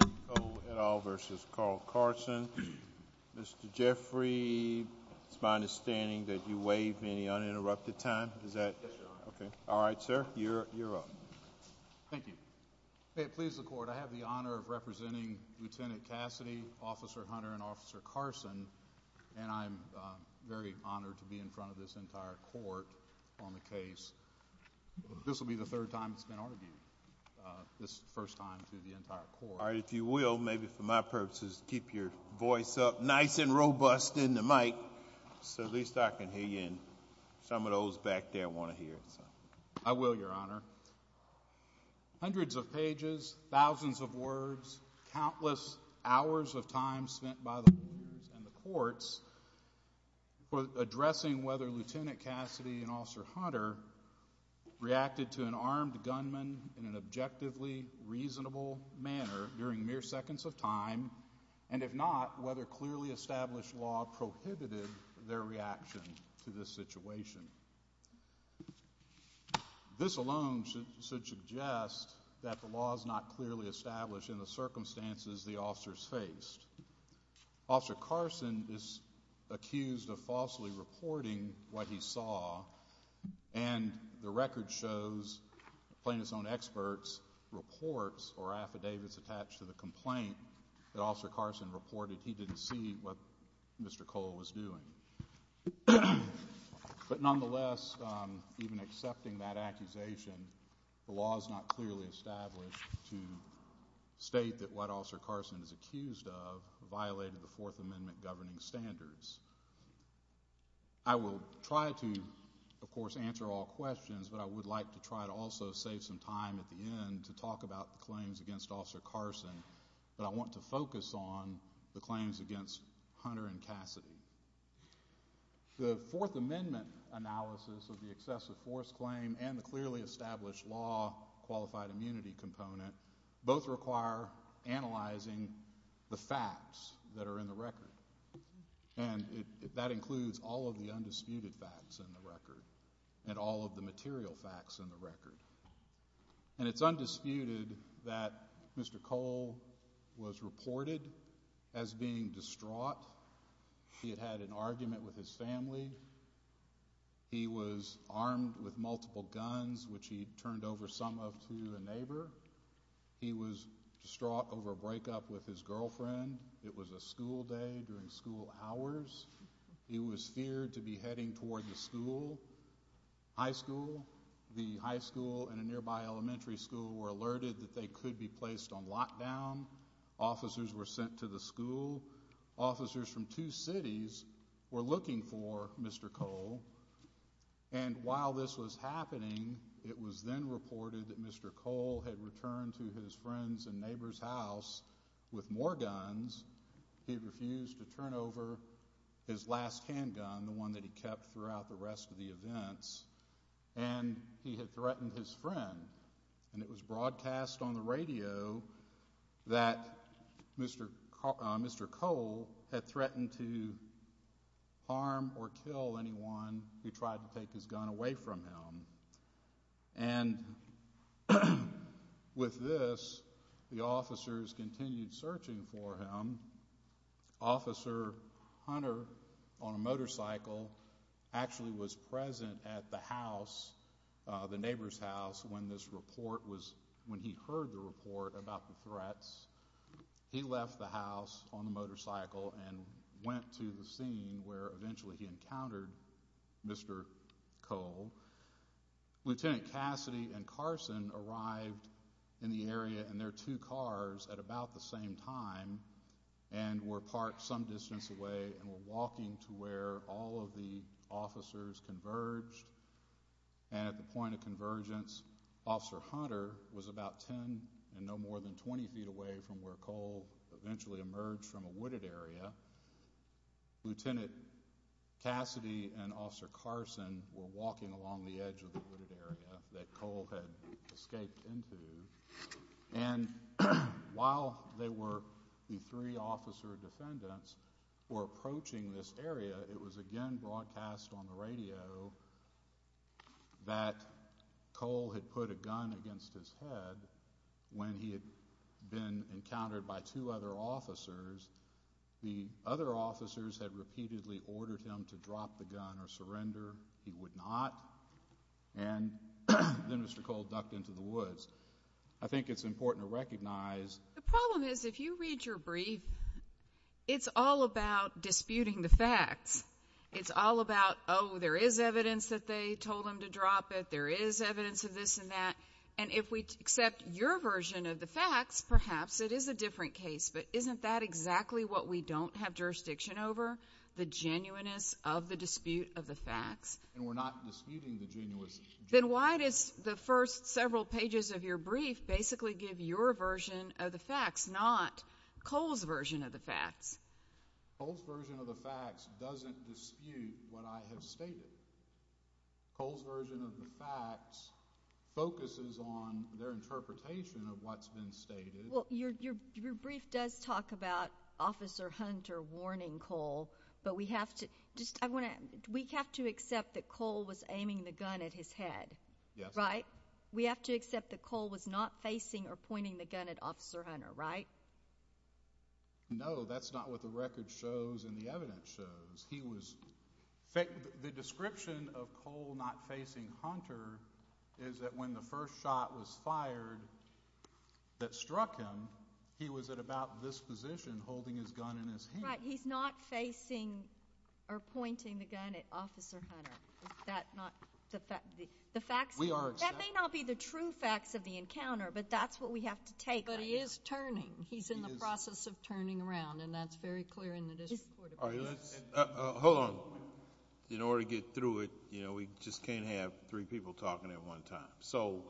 O.L. v. Carl Carson Mr. Jeffrey, it's my understanding that you waived me any uninterrupted time. Yes, sir. All right, sir, you're up. Thank you. Please, the Court, I have the honor of representing Lt. Cassidy, Officer Hunter, and Officer Carson, and I'm very honored to be in front of this entire Court on the case. This will be the third time it's been argued, this first time to the entire Court. All right, if you will, maybe for my purposes, keep your voice up nice and robust in the mic so at least I can hear you and some of those back there want to hear. I will, Your Honor. Hundreds of pages, thousands of words, countless hours of time spent by the lawyers and the courts for addressing whether Lt. Cassidy and Officer Hunter reacted to an armed gunman in an objectively reasonable manner during mere seconds of time, and if not, whether clearly established law prohibited their reaction to this situation. This alone should suggest that the law is not clearly established in the circumstances the officers faced. Officer Carson is accused of falsely reporting what he saw, and the record shows Plaintiff's Own Experts reports or affidavits attached to the complaint that Officer Carson reported he didn't see what Mr. Cole was doing. But nonetheless, even accepting that accusation, the law is not clearly established to state that what Officer Carson is accused of violated the Fourth Amendment governing standards. I will try to, of course, answer all questions, but I would like to try to also save some time at the end to talk about the claims against Officer Carson, but I want to focus on the claims against Hunter and Cassidy. The Fourth Amendment analysis of the excessive force claim and the clearly established law qualified immunity component both require analyzing the facts that are in the record, and that includes all of the undisputed facts in the record and all of the material facts in the record. And it's undisputed that Mr. Cole was reported as being distraught. He had an argument with his family. He was armed with multiple guns, which he turned over some of to a neighbor. He was distraught over a breakup with his girlfriend. It was a school day during school hours. He was feared to be heading toward the school, high school. The high school and a nearby elementary school were alerted that they could be placed on lockdown. Officers were sent to the school. Officers from two cities were looking for Mr. Cole, and while this was happening, it was then reported that Mr. Cole had returned to his friend's and neighbor's house with more guns. He refused to turn over his last handgun, the one that he kept throughout the rest of the events, and he had threatened his friend. And it was broadcast on the radio that Mr. Cole had threatened to harm or kill anyone who tried to take his gun away from him. And with this, the officers continued searching for him. Officer Hunter on a motorcycle actually was present at the house, the neighbor's house, when this report was, when he heard the report about the threats. He left the house on a motorcycle and went to the scene where eventually he encountered Mr. Cole. Lieutenant Cassidy and Carson arrived in the area in their two cars at about the same time and were parked some distance away and were walking to where all of the officers converged. At the point of convergence, Officer Hunter was about 10 and no more than 20 feet away from where Cole eventually emerged from a wooded area. Lieutenant Cassidy and Officer Carson were walking along the edge of the wooded area that Cole had escaped into. And while the three officer defendants were approaching this area, it was again broadcast on the radio that Cole had put a gun against his head. When he had been encountered by two other officers, the other officers had repeatedly ordered him to drop the gun or surrender. He would not. And then Mr. Cole ducked into the woods. I think it's important to recognize— The problem is if you read your brief, it's all about disputing the facts. It's all about, oh, there is evidence that they told him to drop it. There is evidence of this and that. And if we accept your version of the facts, perhaps it is a different case. But isn't that exactly what we don't have jurisdiction over, the genuineness of the dispute of the facts? And we're not disputing the genuineness. Then why does the first several pages of your brief basically give your version of the facts, not Cole's version of the facts? Cole's version of the facts doesn't dispute what I have stated. Cole's version of the facts focuses on their interpretation of what's been stated. Well, your brief does talk about Officer Hunter warning Cole, but we have to accept that Cole was aiming the gun at his head, right? Yes. We have to accept that Cole was not facing or pointing the gun at Officer Hunter, right? No, that's not what the record shows and the evidence shows. The description of Cole not facing Hunter is that when the first shot was fired that struck him, he was at about this position holding his gun in his hand. Right, he's not facing or pointing the gun at Officer Hunter. That may not be the true facts of the encounter, but that's what we have to take on. But he is turning. He's in the process of turning around, and that's very clear in the dispute. Hold on. In order to get through it, you know, we just can't have three people talking at one time. So,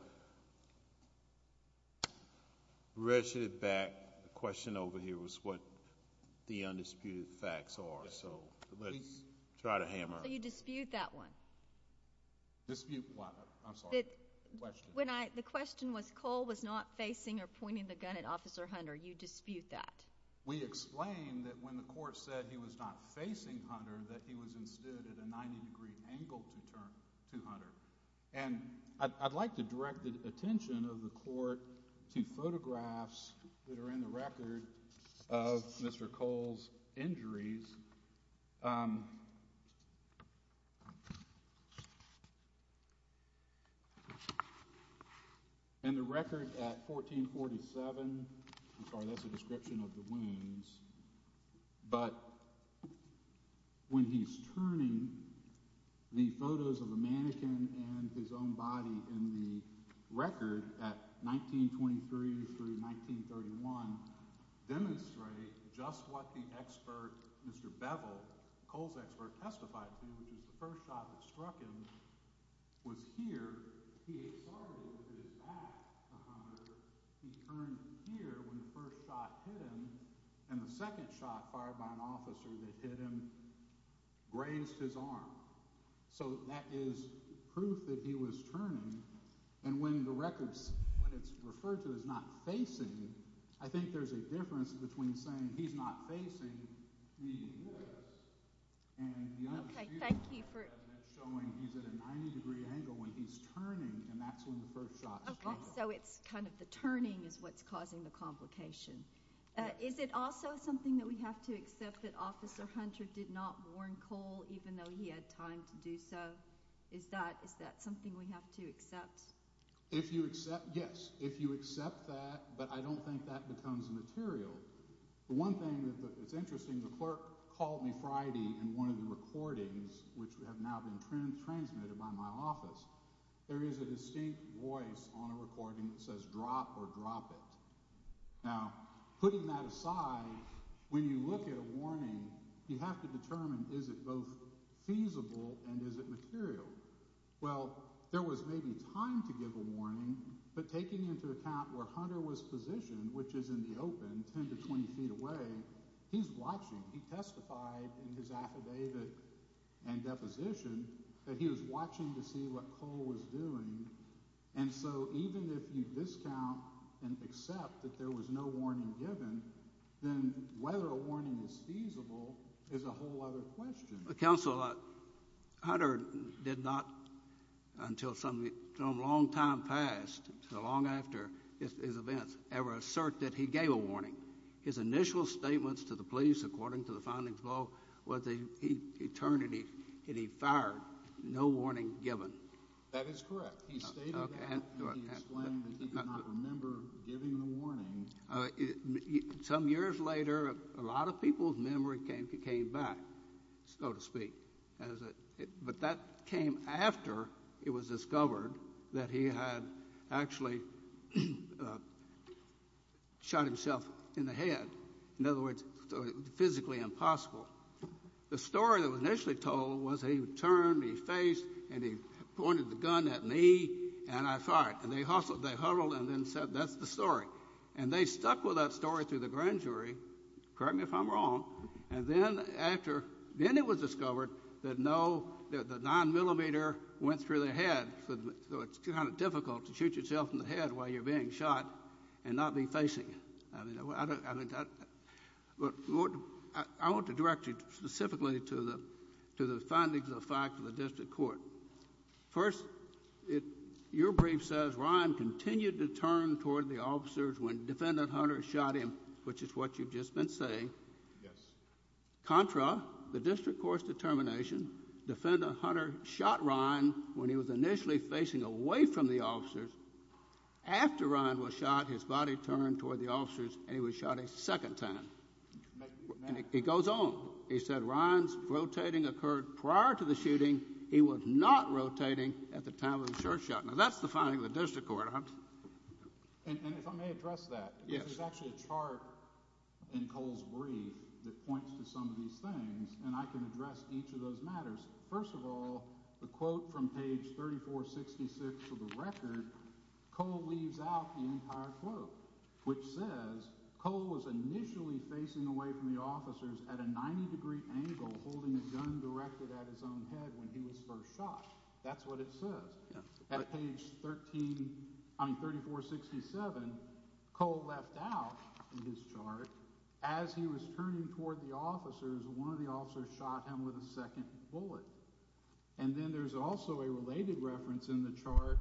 the question over here was what the undisputed facts are, so let's try to hammer it. You dispute that one. The question was Cole was not facing or pointing the gun at Officer Hunter. You dispute that. We explained that when the court said he was not facing Hunter, that he was inside at a 90 degree angle from Hunter. And I'd like to direct the attention of the court to photographs that are in the record of Mr. Cole's injuries. In the record at 1447, I'm sorry, that's a description of the wounds, but when he's turning, the photos of a mannequin and his own body in the record at 1923 through 1931 demonstrate just what the expert, Mr. Bevel, Cole's expert testified to. The first shot that struck him was here. He exploded with his back to Hunter. He turned here when the first shot hit him, and the second shot fired by an officer that hit him breaks his arm. So, that is proof that he was turning. And when the record, when it's referred to as not facing, I think there's a difference between saying he's not facing and he was. Okay, thank you, Bruce. And that's showing he's at a 90 degree angle when he's turning, and that's when the first shot was fired. Okay, so it's kind of the turning that's causing the complication. Is it also something that we have to accept that Officer Hunter did not warn Cole even though he had time to do so? Is that something we have to accept? If you accept, yes. If you accept that, but I don't think that becomes material. The one thing that's interesting, the clerk called me Friday in one of the recordings which have now been transmitted by my office. There is a distinct voice on the recording that says, drop or drop it. Now, putting that aside, when you look at a warning, you have to determine is it both feasible and is it material? Well, there was maybe time to give a warning, but taking into account where Hunter was positioned, which is in the open, 10 to 20 feet away, he's watching. He testified in his affidavit and deposition that he was watching to see what Cole was doing. And so, even if you discount and accept that there was no warning given, then whether a warning was feasible is a whole other question. Counsel, Hunter did not, until a long time passed, so long after this event, ever assert that he gave a warning. His initial statements to the police, according to the findings, were that he turned and he fired, no warning given. That is correct. He stated that and explained that he did not remember giving a warning. Some years later, a lot of people's memory came back, so to speak. But that came after it was discovered that he had actually shot himself in the head. In other words, physically impossible. The story that was initially told was he turned, he faced, and he pointed the gun at me, and I fired. And they hustled, they huddled, and then said, that's the story. And they stuck with that story through the grand jury, correct me if I'm wrong. And then after, then it was discovered that no, that the 9mm went through the head, so it's kind of difficult to shoot yourself in the head while you're being shot and not be facing it. I want to direct you specifically to the findings of the District Court. First, your brief says Ryan continued to turn toward the officers when Defendant Hunter shot him, which is what you've just been saying. Contra, the District Court's determination, Defendant Hunter shot Ryan when he was initially facing away from the officers. After Ryan was shot, his body turned toward the officers, and he was shot a second time. And it goes on. It said Ryan's rotating occurred prior to the shooting. He was not rotating at the time of the first shot. Now that's the finding of the District Court, Hunter. And if I may address that. Yes. There's actually a chart in Cole's brief that points to some of these things, and I can address each of those matters. First of all, the quote from page 3466 of the record, Cole leaves out the entire quote, which says Cole was initially facing away from the officers at a 90-degree angle, holding a gun directed at his own head when he was first shot. That's what it said. At page 3467, Cole left out this chart. As he was turning toward the officers, one of the officers shot him with a second bullet. And then there's also a related reference in the chart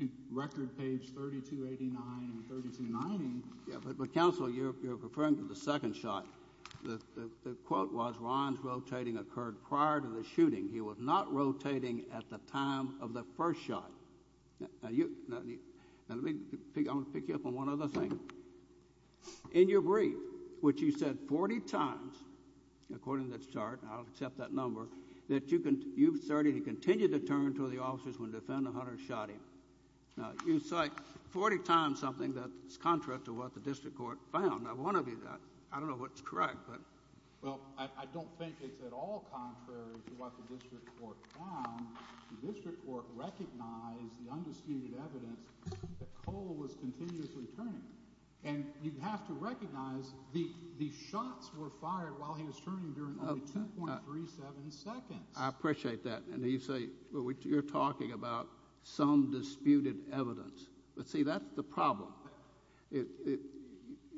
to record page 3289 and 3290. But, counsel, you're referring to the second shot. The quote was, Ryan's rotating occurred prior to the shooting. He was not rotating at the time of the first shot. Now, let me pick you up on one other thing. In your brief, which you said 40 times, according to the chart, and I'll accept that number, that you've started to continue to turn toward the officers when the defendant, Hunter, shot him. Now, you cite 40 times something that's contrary to what the District Court found. Now, one of you, I don't know what's correct, but. Well, I don't think it's at all contrary to what the District Court found. The District Court recognized the undisputed evidence that Cole was continuously turning. And you have to recognize these shots were fired while he was turning during the 10.37 seconds. I appreciate that. And you say you're talking about some disputed evidence. But, see, that's the problem.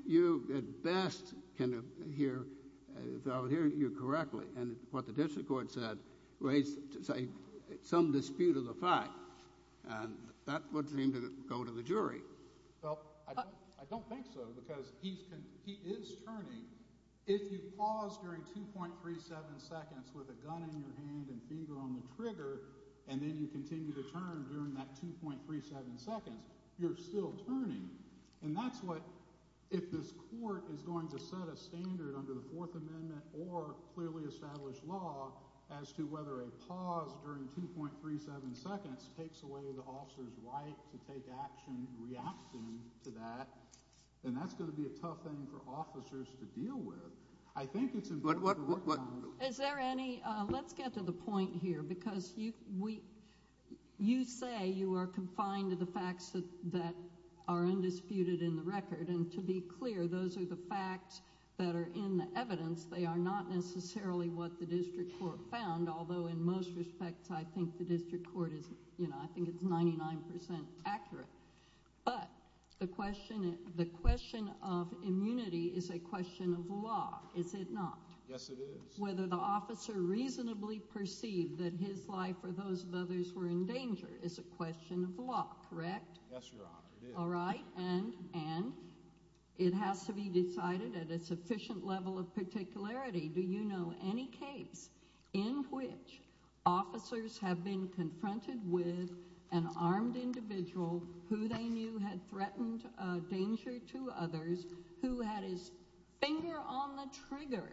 You, at best, can hear. But I was hearing you correctly. And what the District Court said raised some dispute of the fact. And that's what seemed to go to the jury. Well, I don't think so. Because he is turning. If you pause during 2.37 seconds with a gun in your hand and fever on the trigger, and then you continue to turn during that 2.37 seconds, you're still turning. And that's what, if this Court is going to set a standard under the Fourth Amendment or clearly established law as to whether a pause during 2.37 seconds takes away the officer's right to take action in reaction to that, then that's going to be a tough thing for officers to deal with. I think it's important. Let's get to the point here. Because you say you are confined to the facts that are undisputed in the record. And, to be clear, those are the facts that are in the evidence. They are not necessarily what the District Court found. Although, in most respects, I think the District Court is 99% accurate. But the question of immunity is a question of law, is it not? Yes, it is. Whether the officer reasonably perceived that his life or those of others were in danger is a question of law, correct? Yes, Your Honor, it is. All right. And it has to be decided at a sufficient level of particularity. Do you know any case in which officers have been confronted with an armed individual who they knew had threatened danger to others who had his finger on the trigger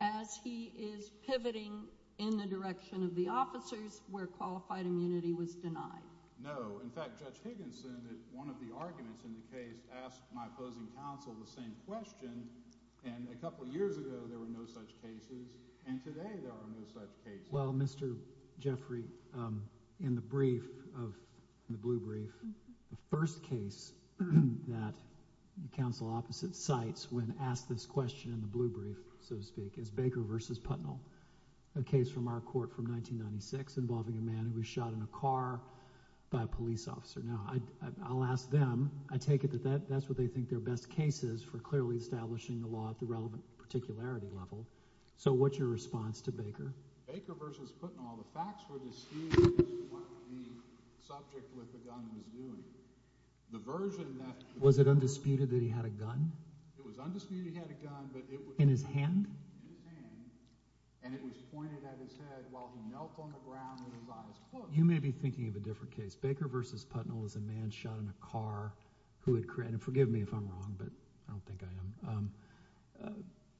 as he is pivoting in the direction of the officers where qualified immunity was denied? No. In fact, Judge Higginson, in one of the arguments in the case, asked my opposing counsel the same question. And a couple of years ago, there were no such cases. And today, there are no such cases. Well, Mr. Jeffrey, in the brief, the blue brief, the first case that the counsel opposite cites when asked this question in the blue brief, so to speak, is Baker v. Putnell. A case from our court from 1996 involving a man who was shot in a car by a police officer. Now, I'll ask them. I take it that that's what they think their best case is for clearly establishing the law at the relevant particularity level. So what's your response to Baker? Baker v. Putnell. The facts were disputed as to what the subject with the gun was doing. The version that— Was it undisputed that he had a gun? It was undisputed he had a gun, but it was— In his hand? In his hand. And it was pointed at his head while he knelt on the ground in the province court. You may be thinking of a different case. Baker v. Putnell was a man shot in a car who had created—forgive me if I'm wrong, but I don't think I am.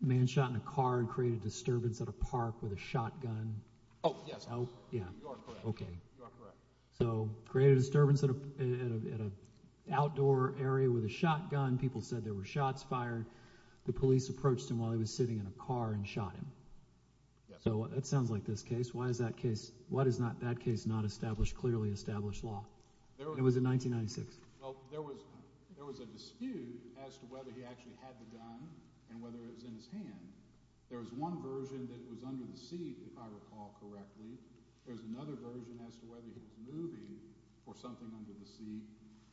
A man shot in a car had created a disturbance at a park with a shotgun. Oh, yes. Yeah. You are correct. Okay. You are correct. So created a disturbance at an outdoor area with a shotgun. People said there were shots fired. The police approached him while he was sitting in a car and shot him. Yes. So it sounds like this case. Why is that case—why does that case not establish clearly established law? It was in 1996. Well, there was a dispute as to whether he actually had the gun and whether it was in his hand. There was one version that was under the seat, if I recall correctly. There was another version as to whether he was moving or something under the seat.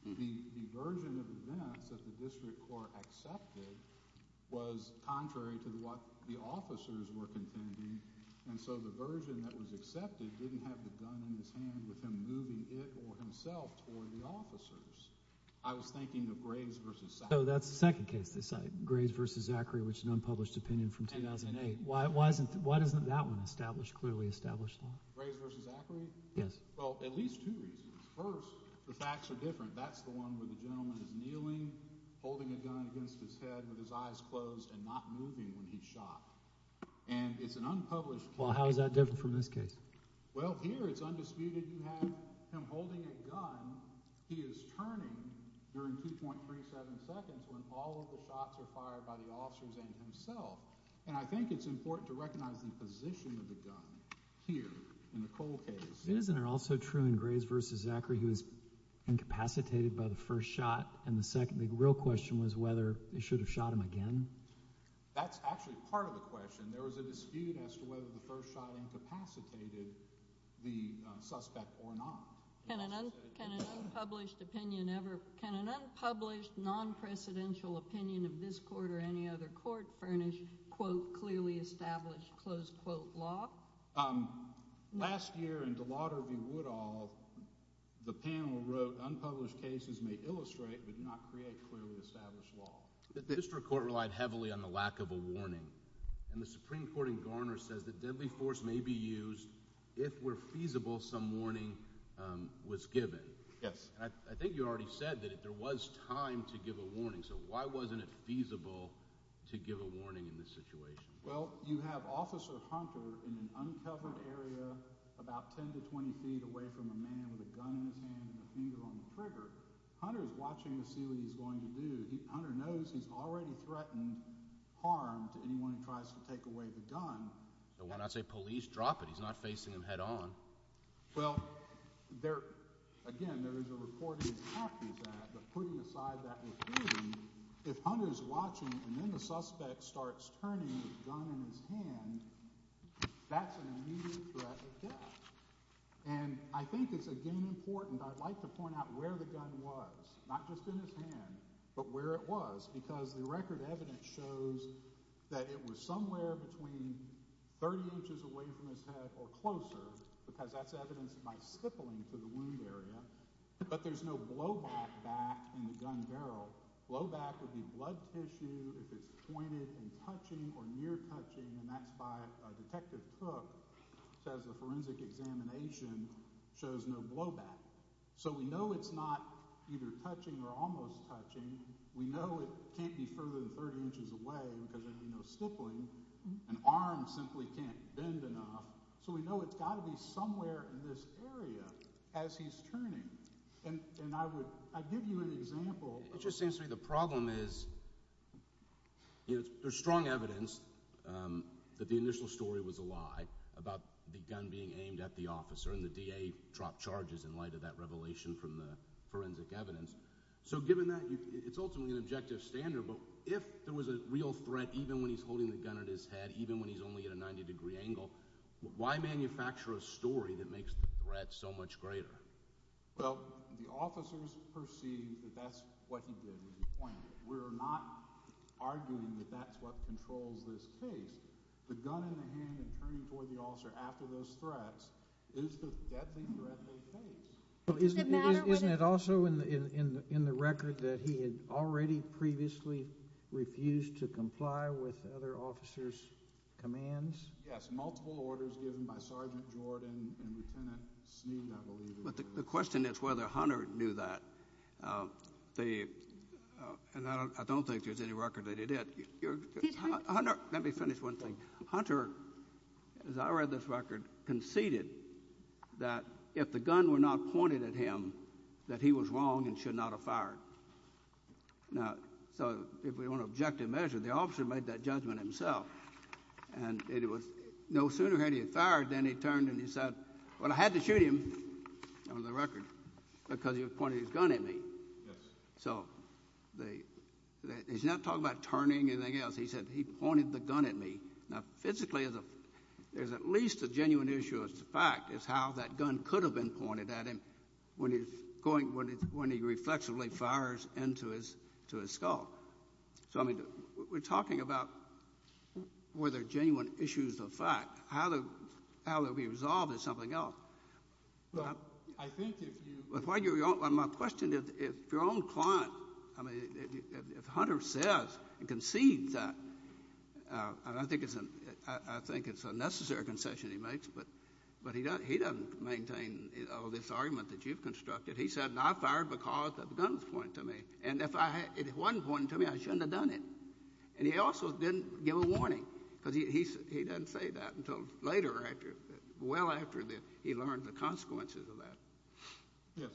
The version of the event that the district court accepted was contrary to what the officers were contending, and so the version that was accepted didn't have the gun in his hand with him moving it or himself or the officers. I was thinking of Graves v. Zachary. So that's the second case, Graves v. Zachary, which is an unpublished opinion from 2008. Why doesn't that one establish clearly established law? Graves v. Zachary? Yes. Well, at least two reasons. First, the facts are different. That's the one where the gentleman is kneeling, holding a gun against his head with his eyes closed and not moving when he's shot. And it's an unpublished— Well, how is that different from this case? Well, here it's undisputed that he's holding a gun. He is turning during 2.37 seconds when all of the shots are fired by the officers and himself. And I think it's important to recognize the position of the gun here in the cold case. It is also true in Graves v. Zachary. He was incapacitated by the first shot. And the second big real question was whether they should have shot him again. That's actually part of the question. There was a dispute as to whether the first shot incapacitated the suspect or not. Can an unpublished opinion ever— Can an unpublished, non-presidential opinion of this court or any other court furnish, quote, clearly established, close quote, law? Last year in Gelauder v. Woodall, the panel wrote unpublished cases may illustrate but not create clearly established law. The district court relied heavily on the lack of a warning. And the Supreme Court in Garner says the deadly force may be used if, where feasible, some warning was given. Yes. I think you already said that there was time to give a warning. So why wasn't it feasible to give a warning in this situation? Well, you have Officer Hunter in an uncovered area about 10 to 20 feet away from a man with a gun in his hand and a finger on the trigger. Hunter is watching to see what he's going to do. Hunter knows he's already threatened harm if anyone tries to take away the gun. So why not say police, drop it? He's not facing them head on. Well, there—again, there is a reporting tactic to that. If Hunter is watching and then the suspect starts turning his gun in his hand, that's an immediate threat of death. And I think it's, again, important. I'd like to point out where the gun was, not just in his hand, but where it was, because the record evidence shows that it was somewhere between 30 inches away from his head or closer, because that's evidence of my crippling to the wound area. But there's no blowback back in the gun barrel. Blowback would be blood tissue, if it's pointed and touching or near-touching, and that's why Detective Cook says the forensic examination shows no blowback. So we know it's not either touching or almost touching. We know it can't be further than 30 inches away because there's no crippling. An arm simply can't bend enough. So we know it's got to be somewhere in this area as he's turning. And I would give you an example. It just seems to me the problem is there's strong evidence that the initial story was a lie about the gun being aimed at the officer, and the DA dropped charges in light of that revelation from the forensic evidence. So given that, it's ultimately an objective standard. But if there was a real threat, even when he's holding the gun at his head, even when he's only at a 90-degree angle, why manufacture a story that makes the threat so much greater? Well, the officers perceive that that's what he did at the point. We're not arguing that that's what controls this case. The gun in the hand and turning before the officer after those threats, that's the threat of the case. But isn't it also in the record that he had already previously refused to comply with other officers' commands? Yes, multiple orders given by Sergeant Lord and Lieutenant Smith, I believe. The question is whether Hunter knew that. And I don't think there's any record that he did. Hunter, let me finish one thing. Hunter, as I read this record, conceded that if the gun were not pointed at him, that he was wrong and should not have fired. Now, if we want an objective measure, the officer made that judgment himself, and it was no sooner had he fired than he turned and he said, well, I had to shoot him, under the record, because he was pointing his gun at me. So he's not talking about turning or anything else. He said he pointed the gun at me. Now, physically, there's at least a genuine issue of fact as to how that gun could have been pointed at him when he reflexively fires into his skull. So, I mean, we're talking about whether genuine issues of fact, how they'll be resolved in something else. Well, my question is, if your own client, I mean, if Hunter says and concedes that, I think it's a necessary concession he makes, but he doesn't maintain this argument that you've constructed. He said, and I fired because the gun was pointed to me. And if it wasn't pointed to me, I shouldn't have done it. And he also didn't give a warning, because he didn't say that until later, well after he learned the consequences of that. Yes.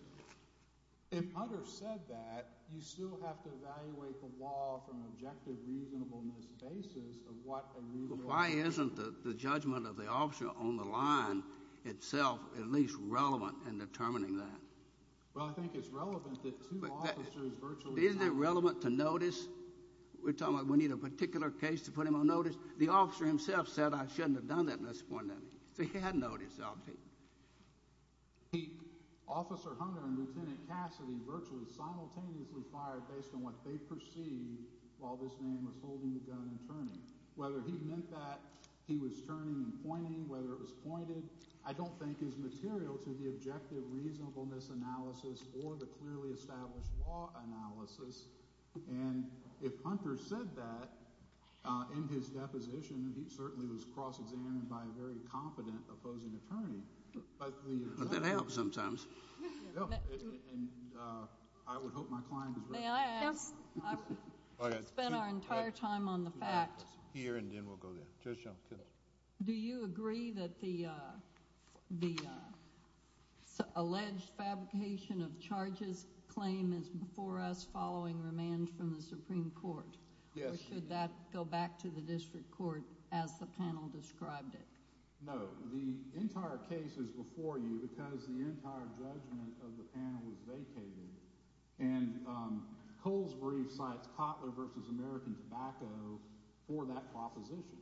If Hunter said that, you still have to evaluate the law from an objective, reasonable, most basis of what a reasonable… But why isn't the judgment of the officer on the line itself at least relevant in determining that? Well, I think it's relevant that two officers virtually… Isn't it relevant to notice? We're talking about we need a particular case to put him on notice. The officer himself said I shouldn't have done that at this point. They had notice of him. Officer Hunter and Lieutenant Cassidy virtually simultaneously fired based on what they perceived while this man was holding the gun and turning. Whether he meant that he was turning and pointing, whether it was pointed, I don't think is material to the objective reasonableness analysis or the clearly established law analysis. And if Hunter said that in his deposition, he certainly was cross-examined by a very confident opposing attorney. That helps sometimes. And I would hope my client agrees. May I add? Go ahead. I spent our entire time on the facts. Peter and then we'll go to Patricia. Do you agree that the alleged fabrication of charges claim is before us following remand from the Supreme Court? Yes. Or should that go back to the district court as the panel described it? No. The entire case is before you because the entire judgment of the panel is vacated. And Coles brings back Cotler v. American Tobacco for that proposition.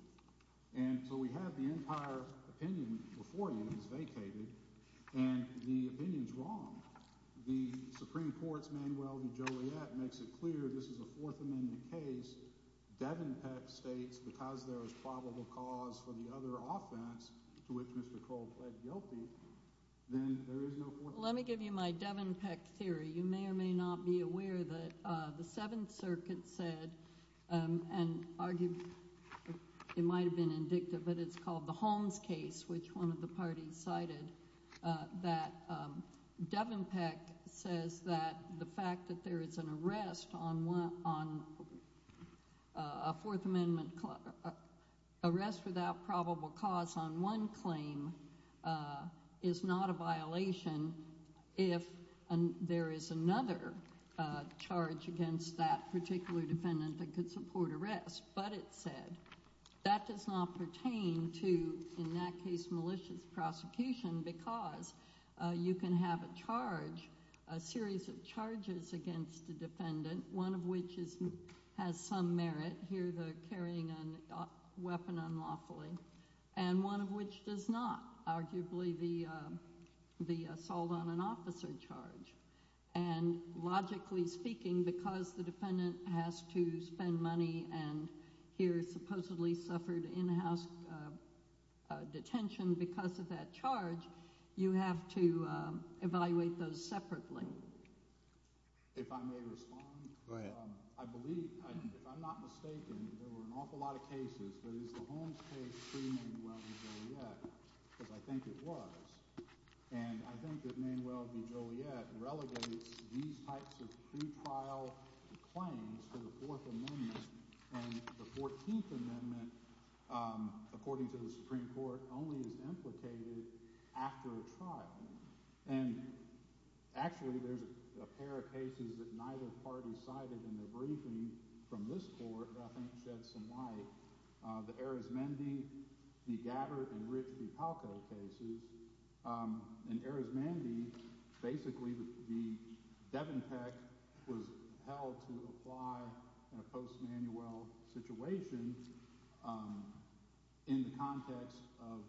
And so we have the entire opinion before you that's vacated. And the opinion is wrong. The Supreme Court's man, Weldon Joliet, makes it clear this is a Fourth Amendment case. Devon Peck states the charge there is probable cause for the other offense to which Mr. Cole pled guilty. Then there is no Fourth Amendment. You may or may not be aware that the Seventh Circuit said and argued, it might have been indicative, but it's called the Holmes case, which one of the parties cited, that Devon Peck says that the fact that there is an arrest on a Fourth Amendment, arrest without probable cause on one claim is not a violation if there is another charge against that particular defendant that could support arrest. But it said that does not pertain to, in that case, malicious prosecution because you can have a charge, a series of charges against the defendant, one of which has some merit, here's a carrying a weapon unlawfully, and one of which does not, arguably the assault on an officer charge. And logically speaking, because the defendant has to spend money and here supposedly suffered in-house detention because of that charge, you have to evaluate those separately. If I may respond, I believe, if I'm not mistaken, there were an awful lot of cases that used the Holmes case to name William Joliet, because I think it was, and I think it named William Joliet relegated these types of pre-trial claims to the Fourth Amendment, and the Fourteenth Amendment, according to the Supreme Court, only implicated after a trial. And actually, there's a pair of cases that neither party cited in the briefing from this court, but I think it does some light, the Arizmendi, the Gabbard, and the Ritz-Carlton cases. In Arizmendi, basically, the Devin Peck was held to apply in a post-manual situation in the context of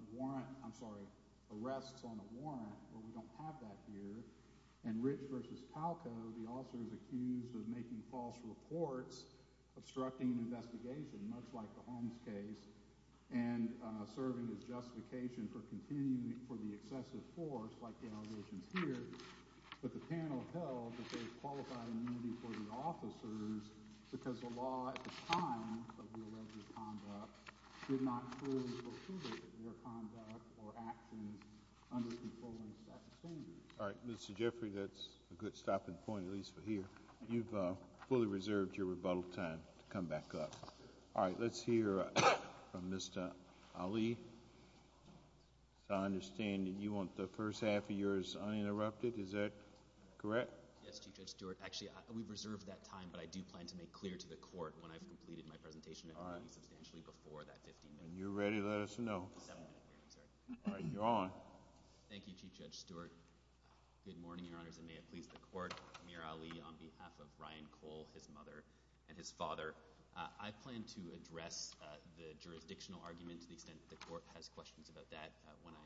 arrest on a warrant, but we don't have that here. In Ritz v. Palco, the officer is accused of making false reports, obstructing an investigation, much like the Holmes case, and serving as justification for the excessive force, like the allegation here. But the panel held that they qualified the meeting for the officers because the law at the time of the alleged conduct did not fully recognize that their conduct or actions under-concerned that behavior. All right, Mr. Jeffrey, that's a good stopping point, at least for here. You've fully reserved your rebuttal time to come back up. All right, let's hear from Mr. Ali. I understand that you want the first half of yours uninterrupted. Is that correct? Yes, Chief Judge Stewart. Actually, we've reserved that time, but I do plan to make clear to the court when I've completed my presentation, especially before that. All right. If you're ready, let us know. All right, you're on. Thank you, Chief Judge Stewart. Good morning, Your Honor. May it please the Court, I'm Amir Ali on behalf of Brian Cole, his mother, and his father. I plan to address the jurisdictional arguments, since the Court has questions about that when I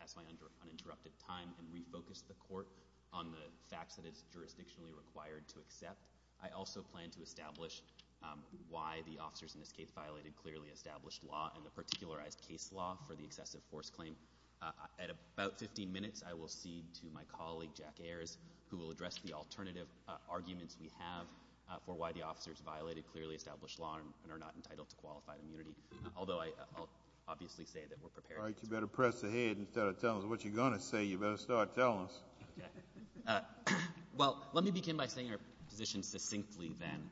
pass my uninterrupted time and refocus the Court on the facts that it's jurisdictionally required to accept. I also plan to establish why the officers in this case violated clearly established law, and in particular, I have case law for the excessive force claim. At about 15 minutes, I will speak to my colleague, Jack Ayers, who will address the alternative arguments we have for why the officers violated clearly established law and are not entitled to qualified immunity, although I'll obviously say that we're prepared. All right, you better press ahead instead of telling us what you're going to say. You better start telling us. Well, let me begin by saying our position succinctly then,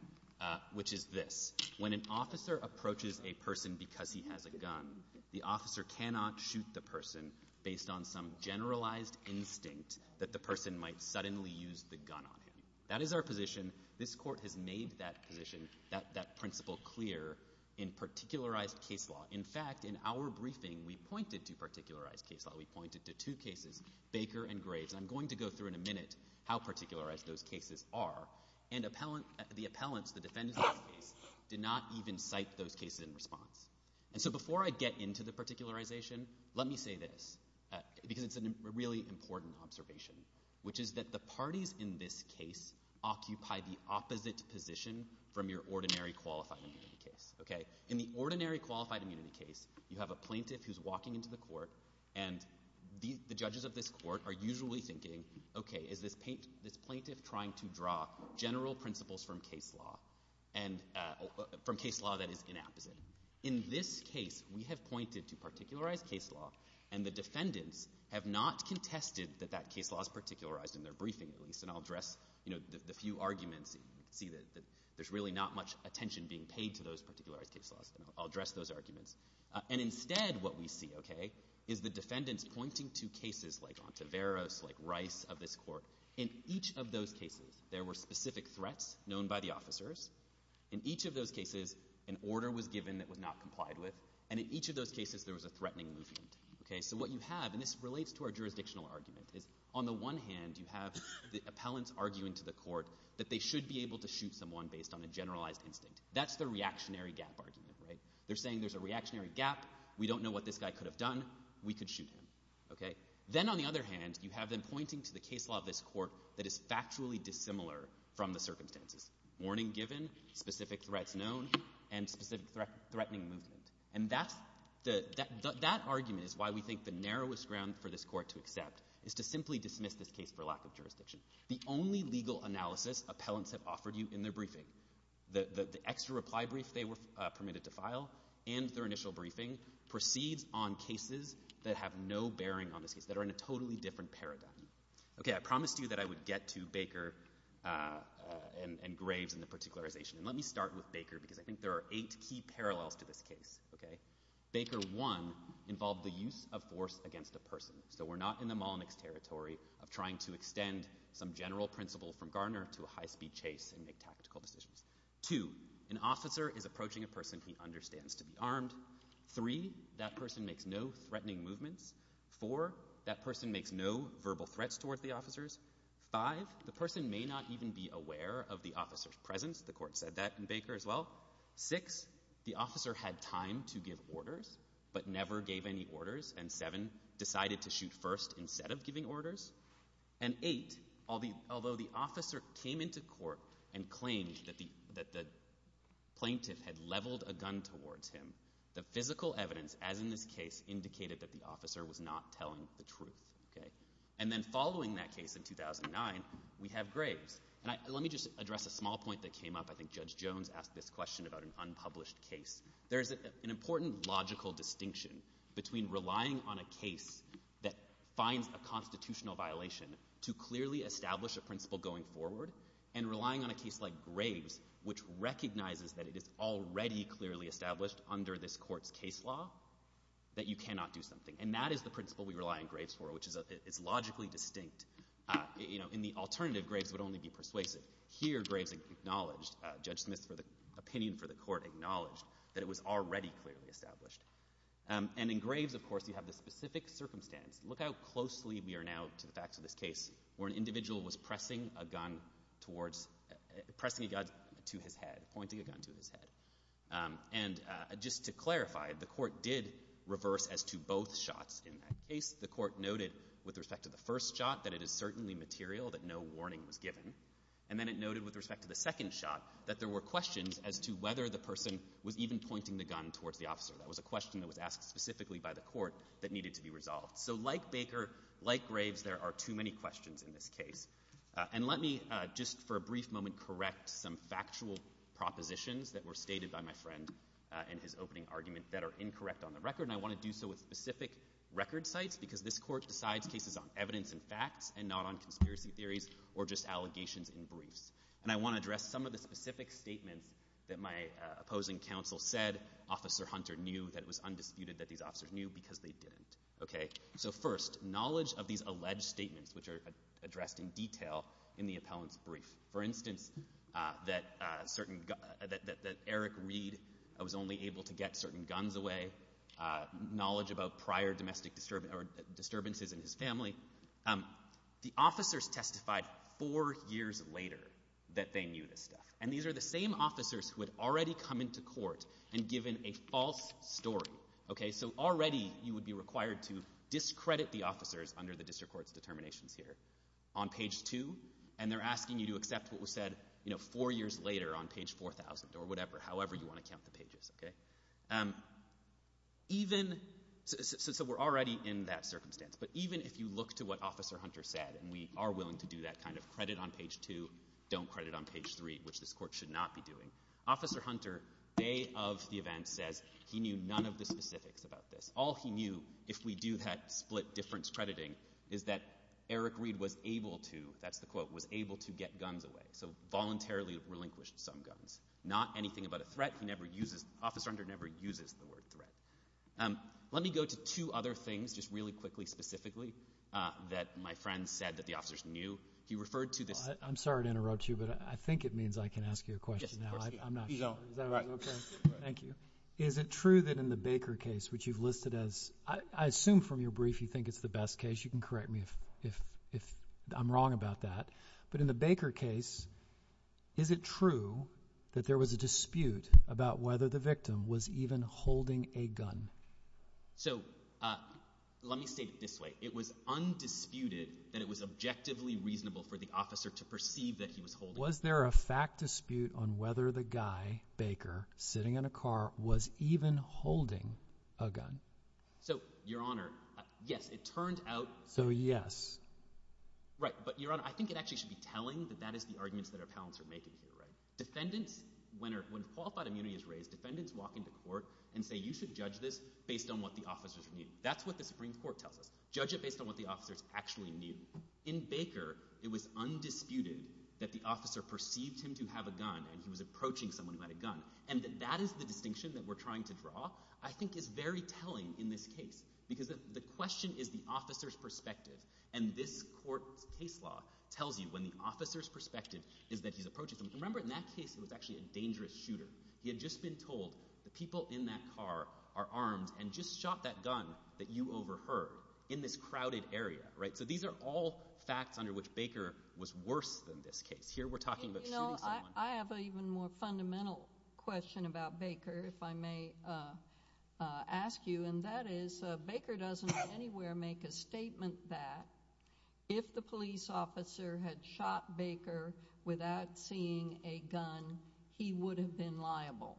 which is this. When an officer approaches a person because he has a gun, the officer cannot shoot the person based on some generalized instinct that the person might suddenly use the gun on him. That is our position. This Court has made that position, that principle clear in particularized case law. In fact, in our briefing, we pointed to particularized case law. We pointed to two cases, Baker and Graves, and I'm going to go through in a minute how particularized those cases are, and the appellants, the defendants, did not even cite those cases in response. And so before I get into the particularization, let me say this, because it's a really important observation, which is that the parties in this case occupy the opposite position from your ordinary qualified immunity case. In the ordinary qualified immunity case, you have a plaintiff who's walking into the court, and the judges of this court are usually thinking, okay, is this plaintiff trying to draw general principles from case law that is inapplicable? In this case, we have pointed to particularized case law, and the defendants have not contested that that case law is particularized in their briefing, and I'll address the few arguments that you see that there's really not much attention being paid to those particularized case laws. I'll address those arguments. And instead, what we see, okay, is the defendants pointing to cases like Ontiveros, like Rice, of this court. In each of those cases, there were specific threats known by the officers. In each of those cases, an order was given that was not complied with, and in each of those cases, there was a threatening movement. Okay, so what you have, and this relates to our jurisdictional argument, is on the one hand, you have the appellants arguing to the court that they should be able to shoot someone based on a generalized complaint. That's the reactionary gap argument, right? They're saying there's a reactionary gap. We don't know what this guy could have done. We could shoot him, okay? Then, on the other hand, you have them pointing to the case law of this court that is factually dissimilar from the circumstances. Warning given, specific threats known, and specific threatening movements. And that argument is why we think the narrowest ground for this court to accept is to simply dismiss this case for lack of jurisdiction. The only legal analysis appellants have offered you in their briefing, the extra reply brief they were permitted to file, and their initial briefing, proceed on cases that have no bearing on the case, that are in a totally different paradigm. Okay, I promised you that I would get to Baker and Graves and the particularization, and let me start with Baker, because I think there are eight key parallels to this case, okay? Baker, one, involved the use of force against the person. So we're not in the Malmix territory of trying to extend some general principle from Garner to a high-speed chase and make tactical decisions. Two, an officer is approaching a person he understands to be armed. Three, that person makes no threatening movements. Four, that person makes no verbal threats towards the officers. Five, the person may not even be aware of the officer's presence. The court said that in Baker as well. Six, the officer had time to give orders, but never gave any orders. And seven, decided to shoot first instead of giving orders. And eight, although the officer came into court and claimed that the plaintiff had leveled a gun towards him, the physical evidence, as in this case, indicated that the officer was not telling the truth. And then following that case in 2009, we have Graves. Let me just address a small point that came up. I think Judge Jones asked this question about an unpublished case. There's an important logical distinction between relying on a case that finds a constitutional violation to clearly establish a principle going forward and relying on a case like Graves, which recognizes that it is already clearly established under this court's case law, that you cannot do something. And that is the principle we rely on Graves for, which is logically distinct. In the alternative, Graves would only be persuasive. Here, Graves acknowledged, Judge Smith's opinion for the court acknowledged, that it was already clearly established. And in Graves, of course, you have the specific circumstance. Look how closely we are now to the fact of this case, where an individual was pressing a gun towards, pressing a gun to his head, pointing a gun to his head. And just to clarify, the court did reverse as to both shots in that case. The court noted, with respect to the first shot, that it is certainly material, that no warning was given. And then it noted, with respect to the second shot, that there were questions as to whether the person was even pointing the gun towards the officer. That was a question that was asked specifically by the court that needed to be resolved. So like Baker, like Graves, there are too many questions in this case. And let me, just for a brief moment, correct some factual propositions that were stated by my friend in his opening argument that are incorrect on the record. And I want to do so with specific record sites, because this court decides cases on evidence and facts and not on conspiracy theories or just allegations and beliefs. And I want to address some of the specific statements that my opposing counsel said Officer Hunter knew that it was undisputed that these officers knew because they didn't. Okay? So first, knowledge of these alleged statements, which are addressed in detail in the appellant's brief. For instance, that Eric Reed was only able to get certain guns away. Knowledge about prior domestic disturbances in his family. The officers testified four years later that they knew this guy. And these are the same officers who had already come into court and given a false story. Okay? So already you would be required to discredit the officers under the District Court's determination here on page two. And they're asking you to accept what was said, you know, four years later on page 4,000 or whatever, however you want to count the pages. Okay? Even, so we're already in that circumstance. But even if you look to what Officer Hunter said, and we are willing to do that kind of credit on page two, don't credit on page three, which this court should not be doing. Officer Hunter, day of the event, said he knew none of the specifics about this. All he knew, if we do have split difference crediting, is that Eric Reed was able to, that's the quote, was able to get guns away. So voluntarily relinquished some guns. Not anything about a threat. He never uses, Officer Hunter never uses the word threat. Let me go to two other things just really quickly, specifically, that my friend said that the officers knew. I'm sorry to interrupt you, but I think it means I can ask you a question now. Thank you. Is it true that in the Baker case, which you've listed as, I assume from your brief you think it's the best case. You can correct me if I'm wrong about that. But in the Baker case, is it true that there was a dispute about whether the victim was even holding a gun? So let me say it this way. It was undisputed that it was objectively reasonable for the officer to perceive that he was holding a gun. Was there a fact dispute on whether the guy, Baker, sitting in a car, was even holding a gun? So, Your Honor, yes. It turned out. So yes. Right. But, Your Honor, I think it actually should be telling that that is the argument that our panelists are making here, right? Defendants, when falsehood immunity is raised, defendants walk into court and say, you should judge this based on what the officers believe. That's what the Supreme Court tells us. Judge it based on what the officers actually mean. In Baker, it was undisputed that the officer perceived him to have a gun and he was approaching someone by the gun. And that is the distinction that we're trying to draw. I think it's very telling in this case because the question is the officer's perspective. And this court case law tells you when the officer's perspective is that he's approaching someone. Remember, in that case, it was actually a dangerous shooter. He had just been told the people in that car are armed and just shot that gun that you overheard in this crowded area, right? So these are all facts under which Baker was worse than this case. Here we're talking about... You know, I have an even more fundamental question about Baker, if I may ask you. And that is, Baker doesn't anywhere make a statement that if the police officer had shot Baker without seeing a gun, he would have been liable.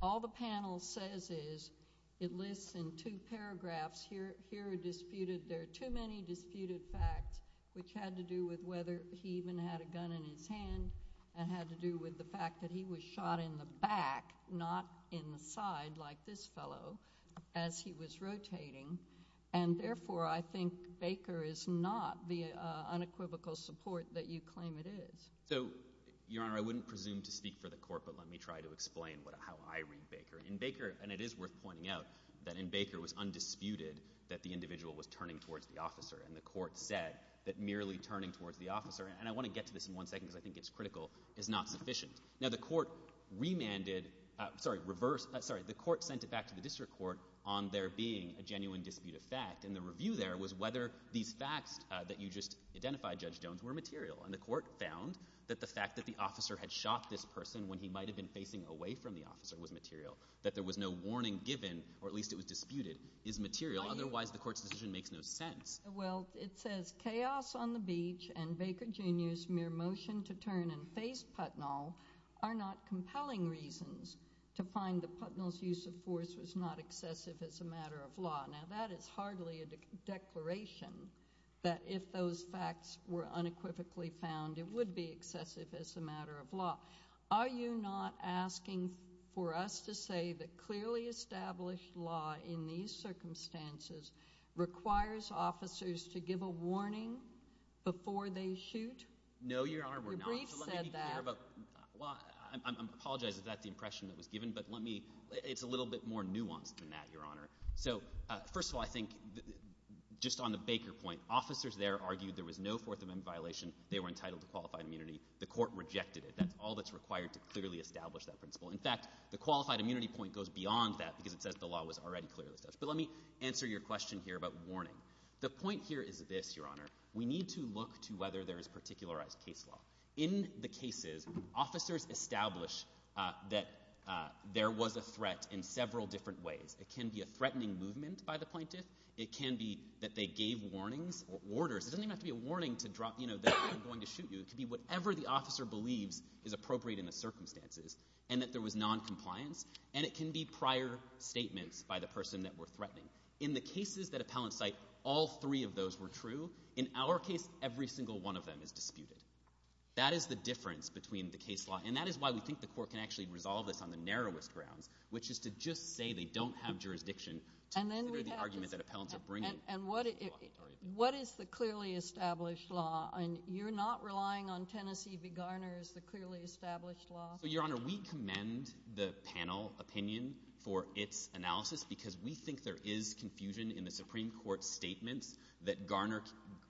All the panel says is it lists in two paragraphs. Here are disputed... There are too many disputed facts, which had to do with whether he even had a gun in his hand and had to do with the fact that he was shot in the back, not in the side like this fellow, as he was rotating. And therefore, I think Baker is not the unequivocal support that you claim it is. So, Your Honor, I wouldn't presume to speak for the court, but let me try to explain how I read Baker. In Baker, and it is worth pointing out, that in Baker it was undisputed that the individual was turning towards the officer, and the court said that merely turning towards the officer, and I want to get to this in one second because I think it's critical, is not sufficient. Now, the court remanded... Sorry, reversed... Sorry, the court sent it back to the district court on there being a genuine dispute of fact, and the review there was whether these facts that you just identified, Judge Jones, were material. And the court found that the fact that the officer had shot this person when he might have been facing away from the officer was material, that there was no warning given, or at least it was disputed, is material. Otherwise, the court's decision makes no sense. Well, it says, chaos on the beach and Baker Jr.'s mere motion to turn and face Putnell are not compelling reasons to find that Putnell's use of force was not excessive as a matter of law. Now, that is hardly a declaration, but if those facts were unequivocally found, it would be excessive as a matter of law. Are you not asking for us to say that clearly established law in these circumstances requires officers to give a warning before they shoot? No, Your Honor, we're not. The brief said that. Well, I apologize. Is that the impression that was given? But let me... It's a little bit more nuanced than that, Your Honor. So, first of all, I think, just on the Baker point, officers there argued there was no Fourth Amendment violation. They were entitled to qualified immunity. The court rejected it. That's all that's required to clearly establish that principle. In fact, the qualified immunity point goes beyond that because it says the law was already clearly established. But let me answer your question here about warning. The point here is this, Your Honor. We need to look to whether there is particularized case law. In the cases, officers established that there was a threat in several different ways. It can be a threatening movement by the plaintiff. It can be that they gave warnings or orders. It doesn't even have to be a warning to drop, you know, that I'm going to shoot you. It can be whatever the officer believed is appropriate in the circumstances and that there was noncompliance. And it can be prior statements by the person that were threatening. In the cases that appellants cite, all three of those were true. In our case, every single one of them is disputed. That is the difference between the case law. And that is why we think the court can actually resolve this on the narrowest ground, which is to just say they don't have jurisdiction to consider the argument that appellants are bringing. And what is the clearly established law? And you're not relying on Tennessee v. Garner as the clearly established law? Your Honor, we commend the panel opinion for its analysis because we think there is confusion in the Supreme Court statement that Garner...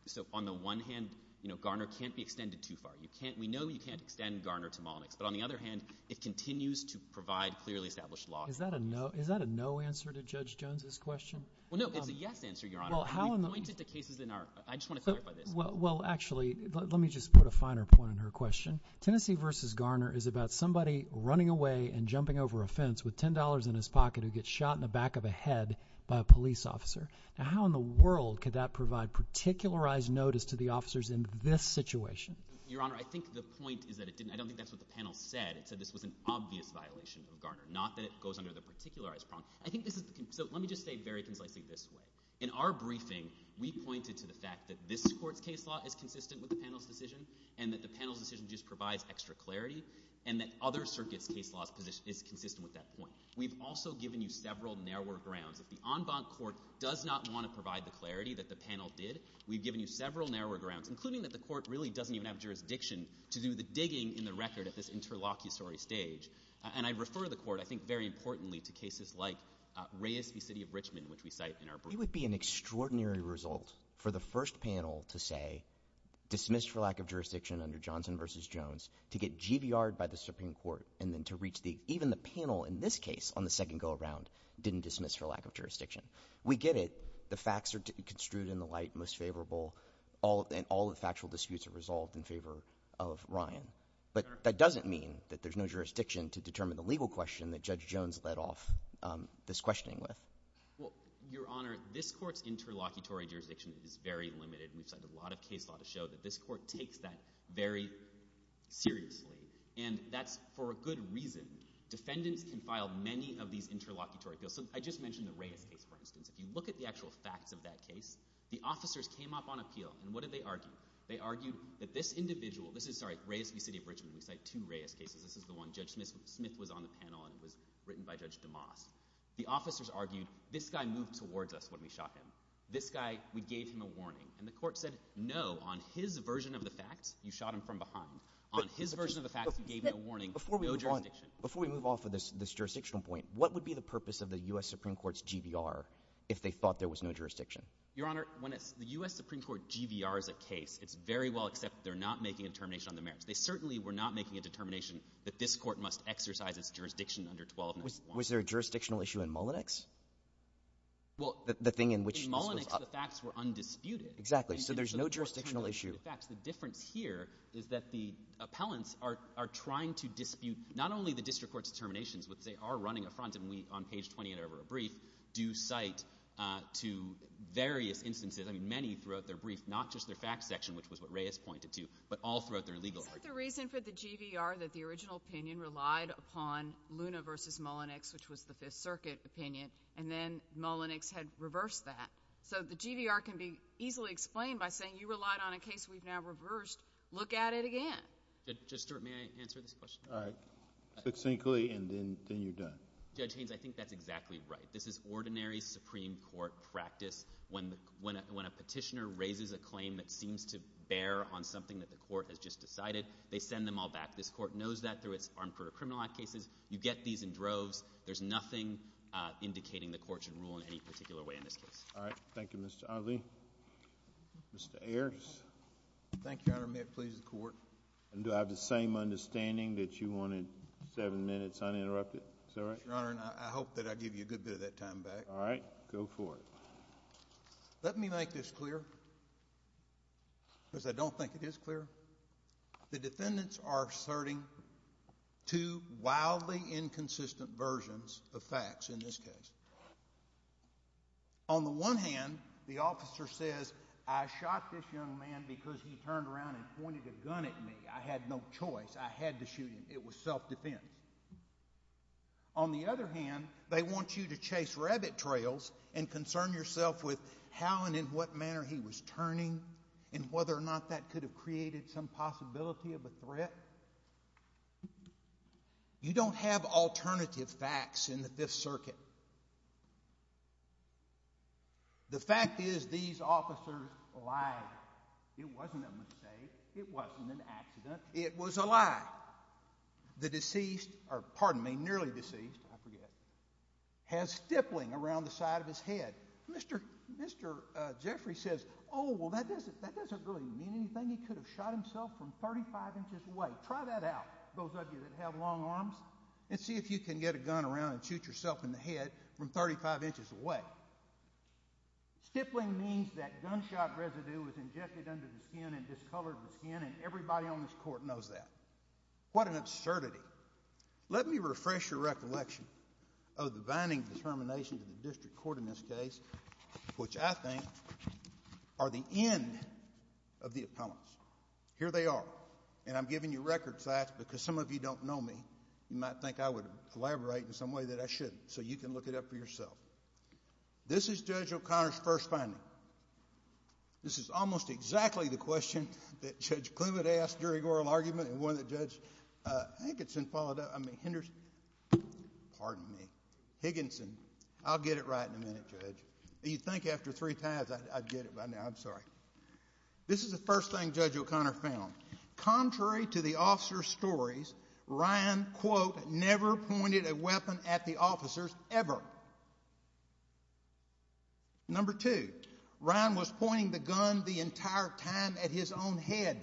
So on the one hand, you know, Garner can't be extended too far. We know you can't extend Garner to Malnick. But on the other hand, it continues to provide clearly established law. Is that a no answer to Judge Jones's question? Well, no, it's a yes answer, Your Honor. We pointed to cases in our... I just want to clarify this. Well, actually, let me just put a finer point on her question. Tennessee v. Garner is about somebody running away and jumping over a fence with $10 in his pocket who gets shot in the back of the head by a police officer. Now, how in the world could that provide particularized notice to the officers in this situation? Your Honor, I think the point is that it didn't... I don't think that's what the panel said. It said this was an obvious violation of Garner, not that it goes under the particularized prompt. I think this is... So let me just say very conflictingly this way. In our briefing, we pointed to the fact that this court's case law is consistent with the panel's decision and that the panel's decision just provides extra clarity and that other circuits' case law is consistent with that point. We've also given you several narrower grounds. The en banc court does not want to provide the clarity that the panel did. We've given you several narrower grounds, including that the court really doesn't even have jurisdiction to do the digging in the record at this interlocutory stage. And I'd refer the court, I think very importantly, to cases like Reyes v. City of Richmond, which we cite in our briefing. It would be an extraordinary result for the first panel to say, dismissed for lack of jurisdiction under Johnson v. Jones, to get GDR'd by the Supreme Court and then to reach the... Even the panel in this case, on the second go-around, didn't dismiss for lack of jurisdiction. We get it. The facts are construed in the light most favorable. All the factual disputes are resolved in favor of Ryan. But that doesn't mean that there's no jurisdiction to determine the legal question that Judge Jones led off this questioning with. Your Honor, this court's interlocutory jurisdiction is very limited, and a lot of cases ought to show that this court takes that very seriously. And that's for a good reason. Defendants can file many of these interlocutory cases. I just mentioned the Reyes case. If you look at the actual facts of that case, the officers came up on appeal. And what did they argue? They argued that this individual... This is Reyes v. City of Richmond. It's like two Reyes cases. This is the one Judge Smith was on the panel on. It was written by Judge DeMoss. The officers argued, this guy moved towards us when we shot him. This guy, we gave him a warning. And the court said, no, on his version of the facts, you shot him from behind. On his version of the facts, you gave him a warning, no jurisdiction. Before we move on, before we move off of this jurisdictional point, what would be the purpose of the U.S. Supreme Court's GVR if they thought there was no jurisdiction? Your Honor, when the U.S. Supreme Court GVRs a case, it's very well accepted they're not making a determination on the merits. They certainly were not making a determination that this court must exercise its jurisdiction under 1291. Was there a jurisdictional issue in Mullenix? The thing in which... In Mullenix, the facts were undisputed. Exactly, so there's no jurisdictional issue. The difference here is that the appellants are trying to dispute not only the district court's determinations, which they are running affront, and we, on page 28 of our brief, do cite to various instances, and many throughout their brief, not just their facts section, which was what Reyes pointed to, but also throughout their legal history. Is there a reason for the GVR that the original opinion relied upon Luna v. Mullenix, which was the 5th Circuit opinion, and then Mullenix had reversed that? So the GVR can be easily explained by saying, you relied on a case we've now reversed. Look at it again. Judge Stewart, may I answer this question? All right. Succinctly, and then you're done. Judge Haynes, I think that's exactly right. It's an ordinary Supreme Court practice when a petitioner raises a claim that seems to bear on something that the court has just decided, they send them all back. This court knows that through its armed court of criminal act cases. You get these in droves. There's nothing indicating the court should rule in any particular way in this case. All right, thank you, Mr. Odley. Mr. Ayers? Thank you, Your Honor. May it please the court? Do I have the same understanding that you wanted seven minutes uninterrupted? Is that right? Your Honor, I hope that I give you a good bit of that time back. All right, go for it. Let me make this clear, because I don't think it is clear. The defendants are asserting two wildly inconsistent versions of facts in this case. On the one hand, the officer says, I shot this young man because he turned around and pointed a gun at me. I had no choice. I had to shoot him. It was self-defense. On the other hand, they want you to chase rabbit trails and concern yourself with how and in what manner he was turning and whether or not that could have created some possibility of a threat. You don't have alternative facts in the Fifth Circuit. The fact is these officers lied. It wasn't a mistake. It wasn't an accident. It was a lie. The deceased, or pardon me, nearly deceased, I forget, has stippling around the side of his head. Mr. Jeffrey says, oh, well, that doesn't really mean anything. He could have shot himself from 35 inches away. Try that out, those of you that have long arms, and see if you can get a gun around and shoot yourself in the head from 35 inches away. Stippling means that gunshot residue was injected under the skin and discolored the skin, and everybody on this court knows that. What an absurdity. Let me refresh your recollection of the binding determinations of the district court in this case, which I think are the end of the appellants. Here they are, and I'm giving you record facts because some of you don't know me. You might think I would elaborate in some way that I shouldn't, so you can look it up for yourself. This is Judge O'Connor's first finding. This is almost exactly the question that Judge Klum had asked during oral argument and one that Judge Higginson followed up. Pardon me, Higginson. I'll get it right in a minute, Judge. You'd think after three times I'd get it by now. I'm sorry. This is the first thing Judge O'Connor found. Contrary to the officer's stories, Ryan, quote, never pointed a weapon at the officers ever. Number two, Ryan was pointing the gun the entire time at his own head.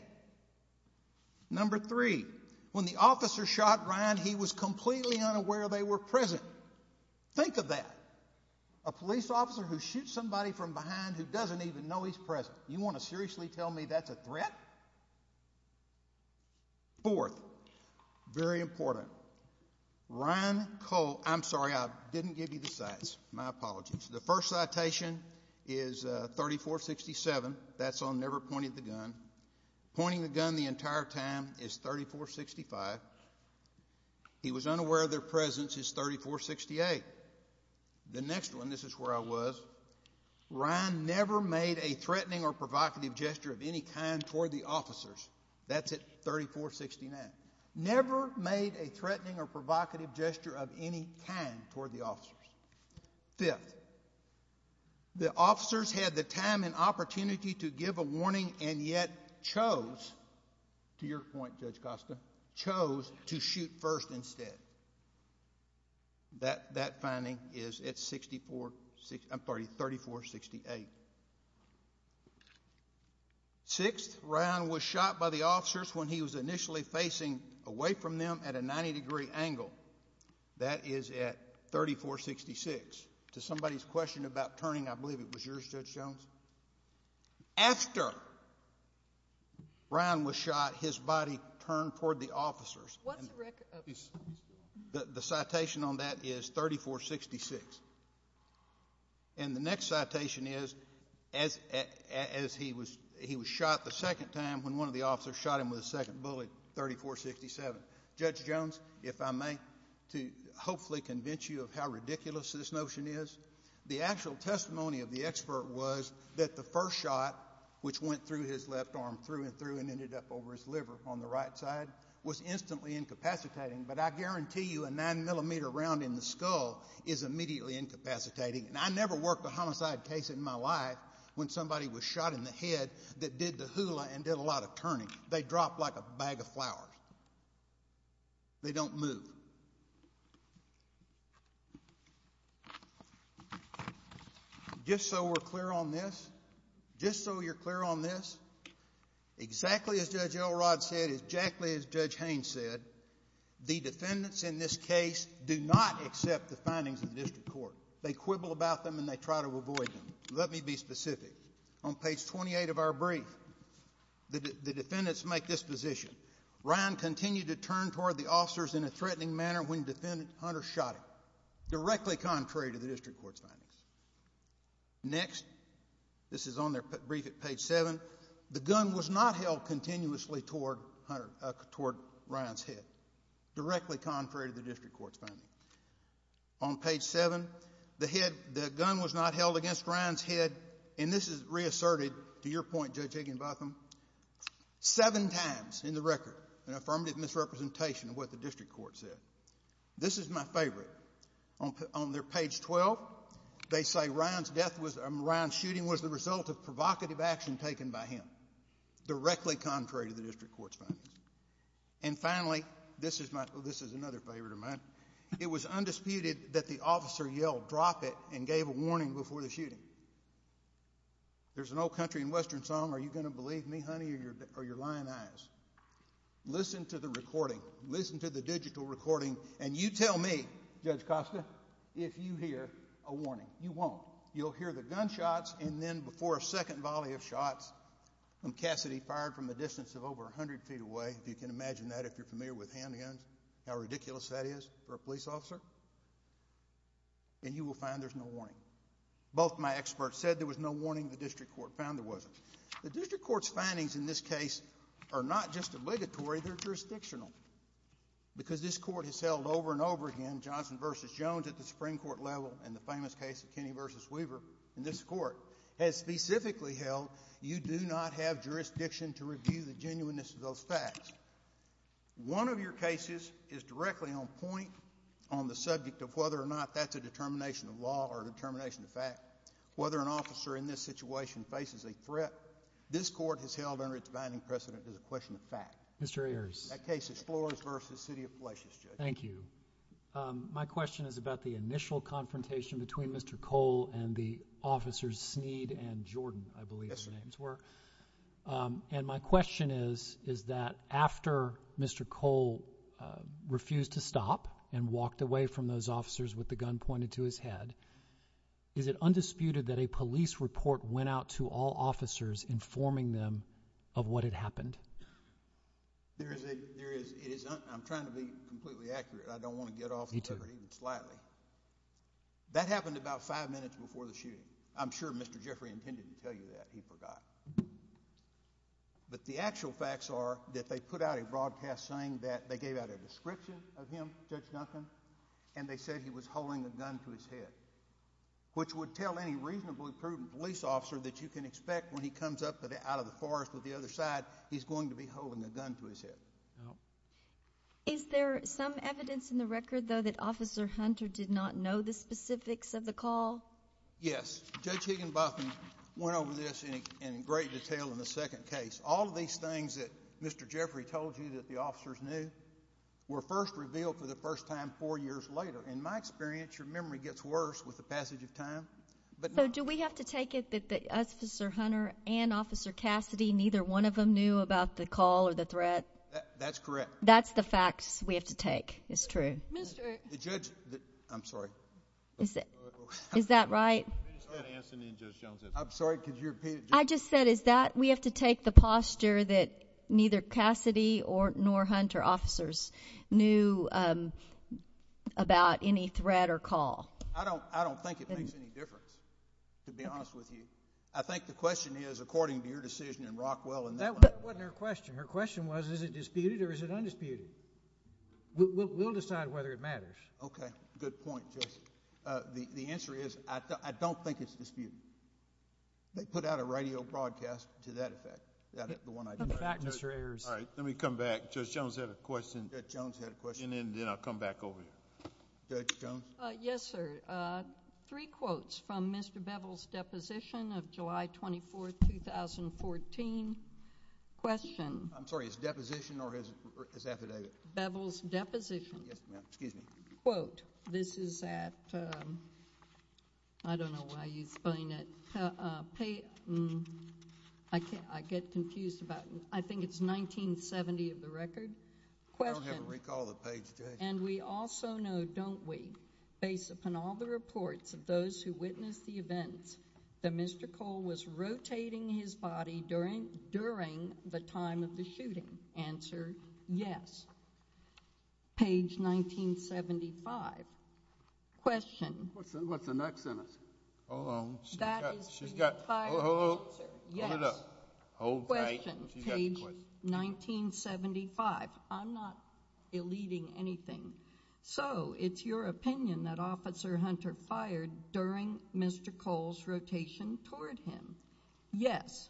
Number three, when the officer shot Ryan, he was completely unaware they were present. Think of that. A police officer who shoots somebody from behind who doesn't even know he's present. You want to seriously tell me that's a threat? Fourth, very important, Ryan Cole, I'm sorry, I didn't give you the cites. My apologies. The first citation is 3467. That's on never pointing the gun. Pointing the gun the entire time is 3465. He was unaware of their presence is 3468. The next one, this is where I was. Ryan never made a threatening or provocative gesture of any kind toward the officers. That's at 3469. Never made a threatening or provocative gesture of any kind toward the officers. Fifth, the officers had the time and opportunity to give a warning and yet chose, to your point, Judge Costa, chose to shoot first instead. That finding is at 3468. Sixth, Ryan was shot by the officers when he was initially facing away from them at a 90 degree angle. That is at 3466. To somebody's question about turning, I believe it was yours, Judge Jones. After Ryan was shot, his body turned toward the officers. The citation on that is 3466. And the next citation is as he was shot the second time when one of the officers shot him with a second bullet, 3467. Judge Jones, if I may, to hopefully convince you of how ridiculous this notion is, the actual testimony of the expert was that the first shot, which went through his left arm through and through and ended up over his liver on the right side, was instantly incapacitating, but I guarantee you a nine millimeter round in the skull is immediately incapacitating. And I never worked a homicide case in my life when somebody was shot in the head that did the hula and did a lot of turning. They drop like a bag of flowers. They don't move. Just so we're clear on this, just so you're clear on this, exactly as Judge Elrod said, exactly as Judge Haynes said, the defendants in this case do not accept the findings of the district court. They quibble about them and they try to avoid them. Let me be specific. On page 28 of our brief, the defendants make this position. Ryan continued to turn toward the officers in a threatening manner when Hunter shot him, directly contrary to the district court's findings. Next, this is on their brief at page 7. The gun was not held continuously toward Ryan's head, directly contrary to the district court's findings. On page 7, the gun was not held against Ryan's head, and this is reasserted to your point, Judge Higginbotham, seven times in the record in affirmative misrepresentation of what the district court said. This is my favorite. On page 12, they say Ryan's death was, Ryan's shooting was the result of provocative action taken by him, directly contrary to the district court's findings. And finally, this is another favorite of mine, it was undisputed that the officer yelled, dropped it, and gave a warning before the shooting. There's an old country and western song, Are You Gonna Believe Me, Honey, or You're Lying Eyes. Listen to the recording, listen to the digital recording, and you tell me, Judge Costa, if you hear a warning. You won't. You'll hear the gunshots and then before a second volley of shots from Cassidy fired from a distance of over 100 feet away. You can imagine that if you're familiar with handguns, how ridiculous that is for a police officer, then you will find there's no warning. Both my experts said there was no warning, the district court found there wasn't. The district court's findings in this case are not just obligatory, they're jurisdictional. Because this court has held over and over again, Johnson v. Jones at the Supreme Court level, and the famous case of Kenney v. Weaver in this court, has specifically held you do not have jurisdiction to review the genuineness of those facts. One of your cases is directly on point on the subject of whether or not that's a determination of law or a determination of fact. Whether an officer in this situation faces a threat, this court has held under its binding precedent as a question of fact. Mr. Ayers. That case is Flores v. City of Flesh's, Judge. Thank you. My question is about the initial confrontation between Mr. Cole and the officers Sneed and Jordan, I believe their names were. And my question is, is that after Mr. Cole refused to stop and walked away from those officers with the gun pointed to his head, is it undisputed that a police report went out to all officers informing them of what had happened? There is a, there is, I'm trying to be completely accurate, I don't want to get off the subject too slightly. That happened about five minutes before the shooting. I'm sure Mr. Jeffrey and Penn didn't tell you that, he forgot. But the actual facts are that they put out a broadcast saying that they gave out a description of him, said nothing, and they said he was holding a gun to his head. Which would tell any reasonably prudent police officer that you can expect when he comes up out of the forest on the other side, he's going to be holding a gun to his head. Is there some evidence in the record, though, that Officer Hunter did not know the specifics of the call? Yes. Judge Higginbotham went over this in great detail in the second case. All these things that Mr. Jeffrey told you that the officers knew were first revealed for the first time four years later. In my experience, your memory gets worse with the passage of time. So do we have to take it that Officer Hunter and Officer Cassidy, neither one of them knew about the call or the threat? That's correct. That's the facts we have to take. It's true. I'm sorry. Is that right? I'm sorry, could you repeat it? I just said, is that we have to take the posture that neither Cassidy nor Hunter officers knew about any threat or call? I don't think it makes any difference, to be honest with you. I think the question is, according to your decision in Rockwell, and that wasn't her question. Her question was, is it disputed or is it undisputed? We'll decide whether it matters. Okay, good point, Jesse. The answer is, I don't think it's disputed. They put out a radio broadcast to that effect. Come back, Mr. Ayers. All right, let me come back. Judge Jones had a question. Judge Jones had a question. And then I'll come back over here. Judge Jones? Yes, sir. Three quotes from Mr. Bevel's deposition of July 24, 2014. Question. I'm sorry, his deposition or his affidavit? Bevel's deposition. Excuse me. Quote. This is at, I don't know why you explain it. I get confused about, I think it's 1970 of the record. Question. I don't have a recall of the page today. And we also know, don't we, based upon all the reports of those who witnessed the events, that Mr. Cole was rotating his body during the time of the shooting. Answer, yes. Page 1975. Question. What's the next one? Hold on. She's got five minutes, sir. Hold it up. Question, page 1975. I'm not eluding anything. So it's your opinion that Officer Hunter fired during Mr. Cole's rotation toward him? Yes.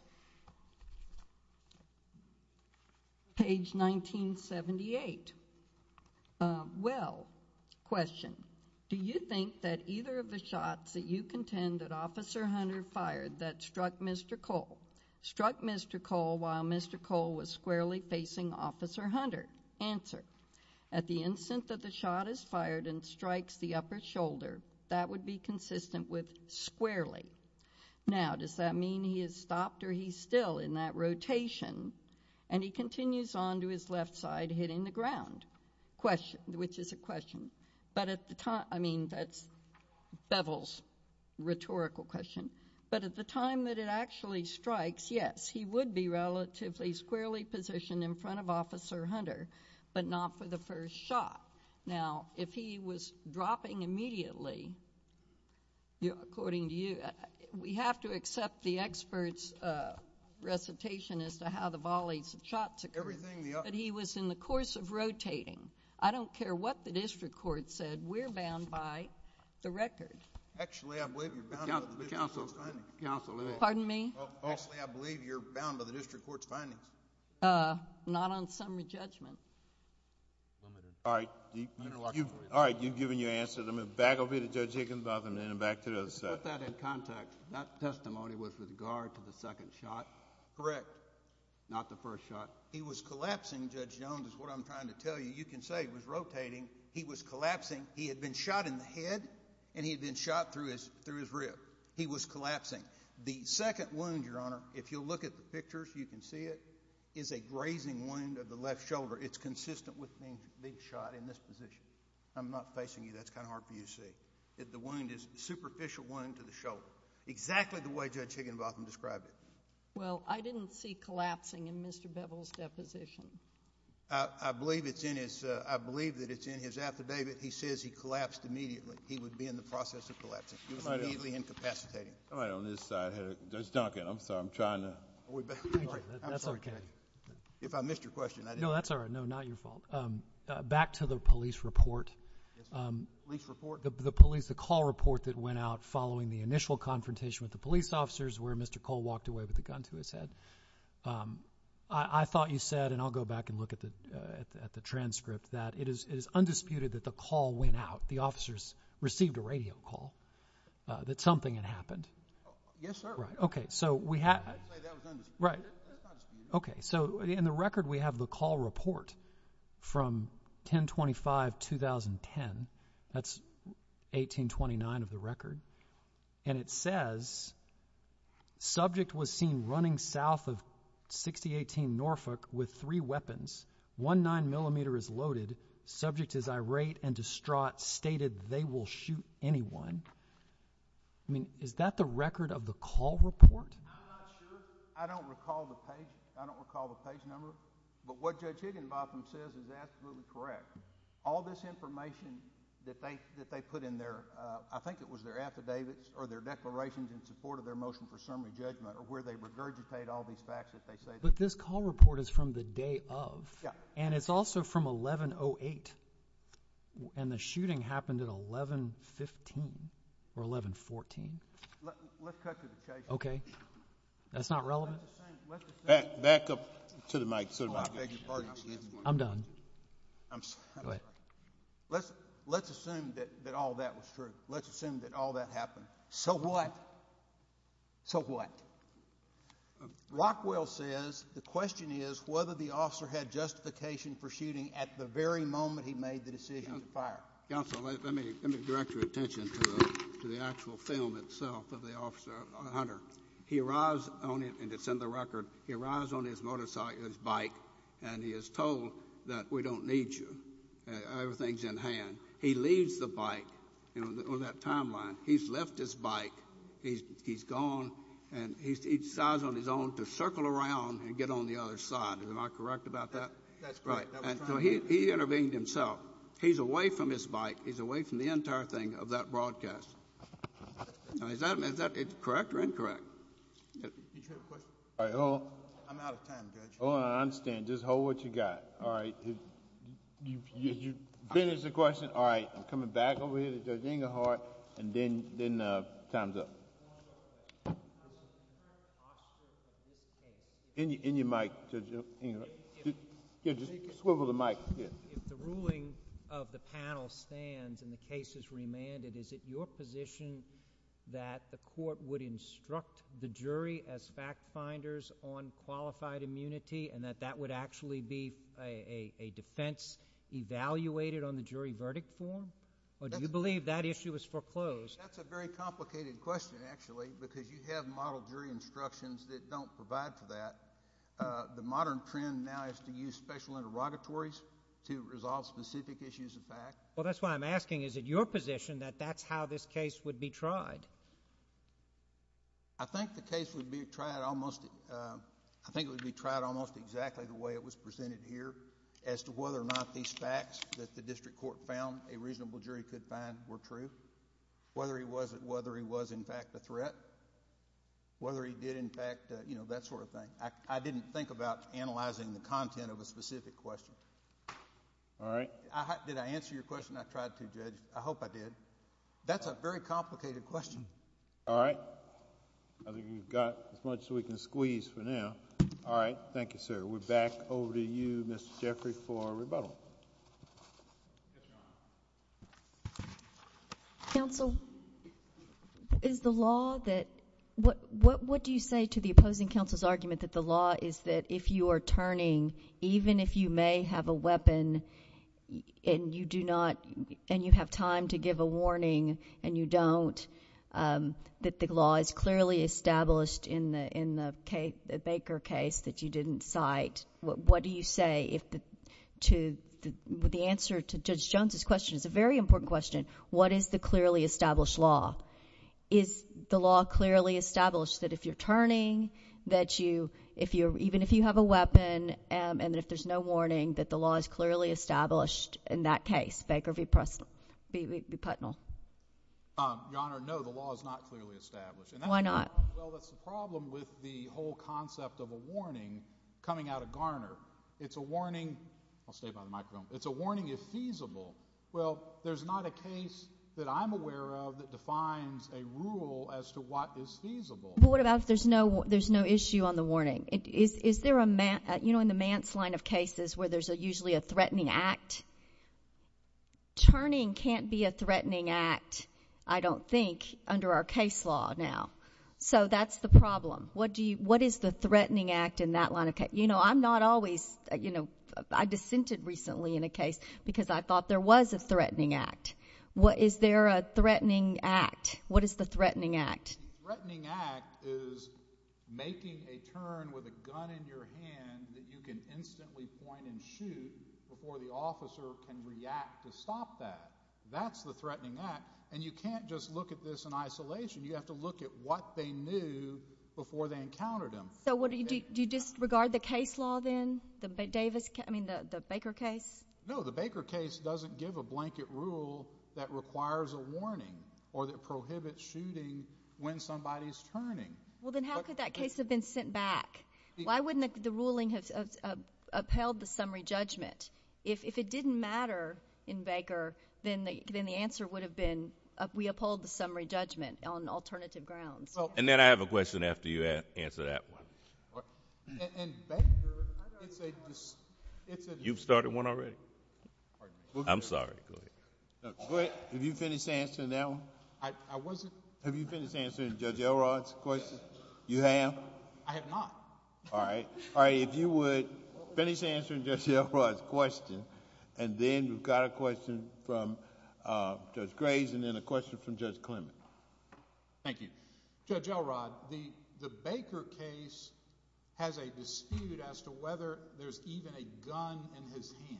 Page 1978. Well, question. Do you think that either of the shots that you contend that Officer Hunter fired that struck Mr. Cole, while Mr. Cole was squarely facing Officer Hunter? Answer. At the instant that the shot is fired and strikes the upper shoulder, that would be consistent with squarely. Now, does that mean he has stopped or he's still in that rotation, and he continues on to his left side hitting the ground, which is a question. But at the time, I mean, that's Bevel's rhetorical question. But at the time that it actually strikes, yes, he would be relatively squarely positioned in front of Officer Hunter, but not for the first shot. Now, if he was dropping immediately, according to you, we have to accept the expert's recitation as to how the volleys of shots occurred, but he was in the course of rotating. I don't care what the district court said. We're bound by the record. Actually, I believe you're bound by the district court's findings. Pardon me? Actually, I believe you're bound by the district court's findings. Not on some of the judgments. All right. You've given your answer. Let me back over here to Judge Higginbotham and then back to the other side. Put that in context. That testimony was with regard to the second shot? Correct. Not the first shot. He was collapsing, Judge Jones, is what I'm trying to tell you. You can say he was rotating. He was collapsing. He had been shot in the head and he had been shot through his rib. He was collapsing. The second wound, Your Honor, if you'll look at the pictures, you can see it, is a grazing wound of the left shoulder. It's consistent with being shot in this position. I'm not facing you. That's kind of hard for you to see. The wound is a superficial wound to the shoulder, exactly the way Judge Higginbotham described it. Well, I didn't see collapsing in Mr. Bevel's deposition. I believe that it's in his affidavit. If he says he collapsed immediately, he would be in the process of collapsing. He was immediately incapacitated. All right. On this side, there's Duncan. I'm sorry. I'm trying to. That's okay. If I missed your question, I didn't. No, that's all right. No, not your fault. Back to the police report. Yes, sir. Police report? The police, the call report that went out following the initial confrontation with the police officers where Mr. Cole walked away with a gun to his head. I thought you said, and I'll go back and look at the transcript, that it is undisputed that the call went out. The officers received a radio call that something had happened. Yes, sir. Right. Okay. So we have. Right. Okay. So in the record, we have the call report from 10-25-2010. That's 1829 of the record. And it says, subject was seen running south of 6018 Norfolk with three weapons, one 9mm is loaded. Subject is irate and distraught, stated they will shoot anyone. I mean, is that the record of the call report? I'm not sure. I don't recall the page. I don't recall the page number. But what Judge Higginbotham says is absolutely correct. All this information that they put in their, I think it was their affidavits or their declarations in support of their motion for assembly judgment or where they regurgitate all these facts that they say. But this call report is from the day of. Yeah. And it's also from 11-08. And the shooting happened at 11-15 or 11-14. Let's cut to the chase. Okay. That's not relevant? Back up to the mic. I'm done. I'm sorry. Go ahead. Let's assume that all that was true. Let's assume that all that happened. So what? So what? Rockwell says the question is whether the officer had justification for shooting at the very moment he made the decision to fire. Counsel, let me direct your attention to the actual film itself of the officer, Hunter. He arrives, and it's in the record, he arrives on his motorcycle, his bike, and he is told that we don't need you. Everything's in hand. He leaves the bike on that timeline. He's left his bike. He's gone, and he decides on his own to circle around and get on the other side. Am I correct about that? That's correct. So he intervenes himself. He's away from his bike. He's away from the entire thing of that broadcast. Now, is that correct or incorrect? Hold on. I'm out of time, Judge. Hold on. I understand. Just hold what you got. All right. You finished the question? All right. I'm coming back over here to Judge Ingehart, and then time's up. In your mic, Judge Ingehart. Just swivel the mic. If the ruling of the panel stands and the case is remanded, is it your position that the court would instruct the jury as fact-finders on qualified immunity and that that would actually be a defense evaluated on the jury verdict form? Or do you believe that issue is foreclosed? That's a very complicated question, actually, because you have model jury instructions that don't provide for that. The modern trend now is to use special interrogatories to resolve specific issues of fact. Well, that's why I'm asking, is it your position that that's how this case would be tried? I think the case would be tried almost exactly the way it was presented here as to whether or not these facts that the district court found a reasonable jury could find were true, whether he was, in fact, a threat, whether he did, in fact, that sort of thing. I didn't think about analyzing the content of a specific question. All right. Did I answer your question? I tried to, Judge. I hope I did. That's a very complicated question. All right. I think we've got as much as we can squeeze for now. All right. Thank you, sir. We're back over to you, Ms. Jeffrey, for our rebuttal. Counsel, is the law that what do you say to the opposing counsel's argument that the law is that if you are turning, even if you may have a weapon and you have time to give a warning and you don't, that the law is clearly established in the Baker case that you didn't cite? What do you say to the answer to Judge Jones's question? It's a very important question. What is the clearly established law? Is the law clearly established that if you're turning, that even if you have a weapon and if there's no warning, that the law is clearly established in that case? Baker v. Putnell. Your Honor, no, the law is not clearly established. Why not? Well, that's the problem with the whole concept of a warning coming out of Garner. It's a warning. I'll stay by the microphone. It's a warning if feasible. Well, there's not a case that I'm aware of that defines a rule as to what is feasible. But what about if there's no issue on the warning? Is there a, you know, in the Mance line of cases where there's usually a threatening act, turning can't be a threatening act, I don't think, under our case law now. So that's the problem. What is the threatening act in that line of case? You know, I'm not always, you know, I dissented recently in a case because I thought there was a threatening act. Is there a threatening act? What is the threatening act? The threatening act is making a turn with a gun in your hand that you can instantly point and shoot before the officer can react to stop that. That's the threatening act. And you can't just look at this in isolation. You have to look at what they knew before they encountered them. So do you disregard the case law then, the Baker case? No, the Baker case doesn't give a blanket rule that requires a warning or that prohibits shooting when somebody's turning. Well, then how could that case have been sent back? Why wouldn't the ruling have upheld the summary judgment? If it didn't matter in Baker, then the answer would have been we uphold the summary judgment on alternative grounds. And then I have a question after you answer that one. In Baker, if it was— You've started one already? I'm sorry. Have you finished answering that one? Have you finished answering Judge Elrod's question? You have? I have not. All right. If you would finish answering Judge Elrod's question, and then we've got a question from Judge Graves and then a question from Judge Clement. Thank you. Judge Elrod, the Baker case has a dispute as to whether there's even a gun in his hand.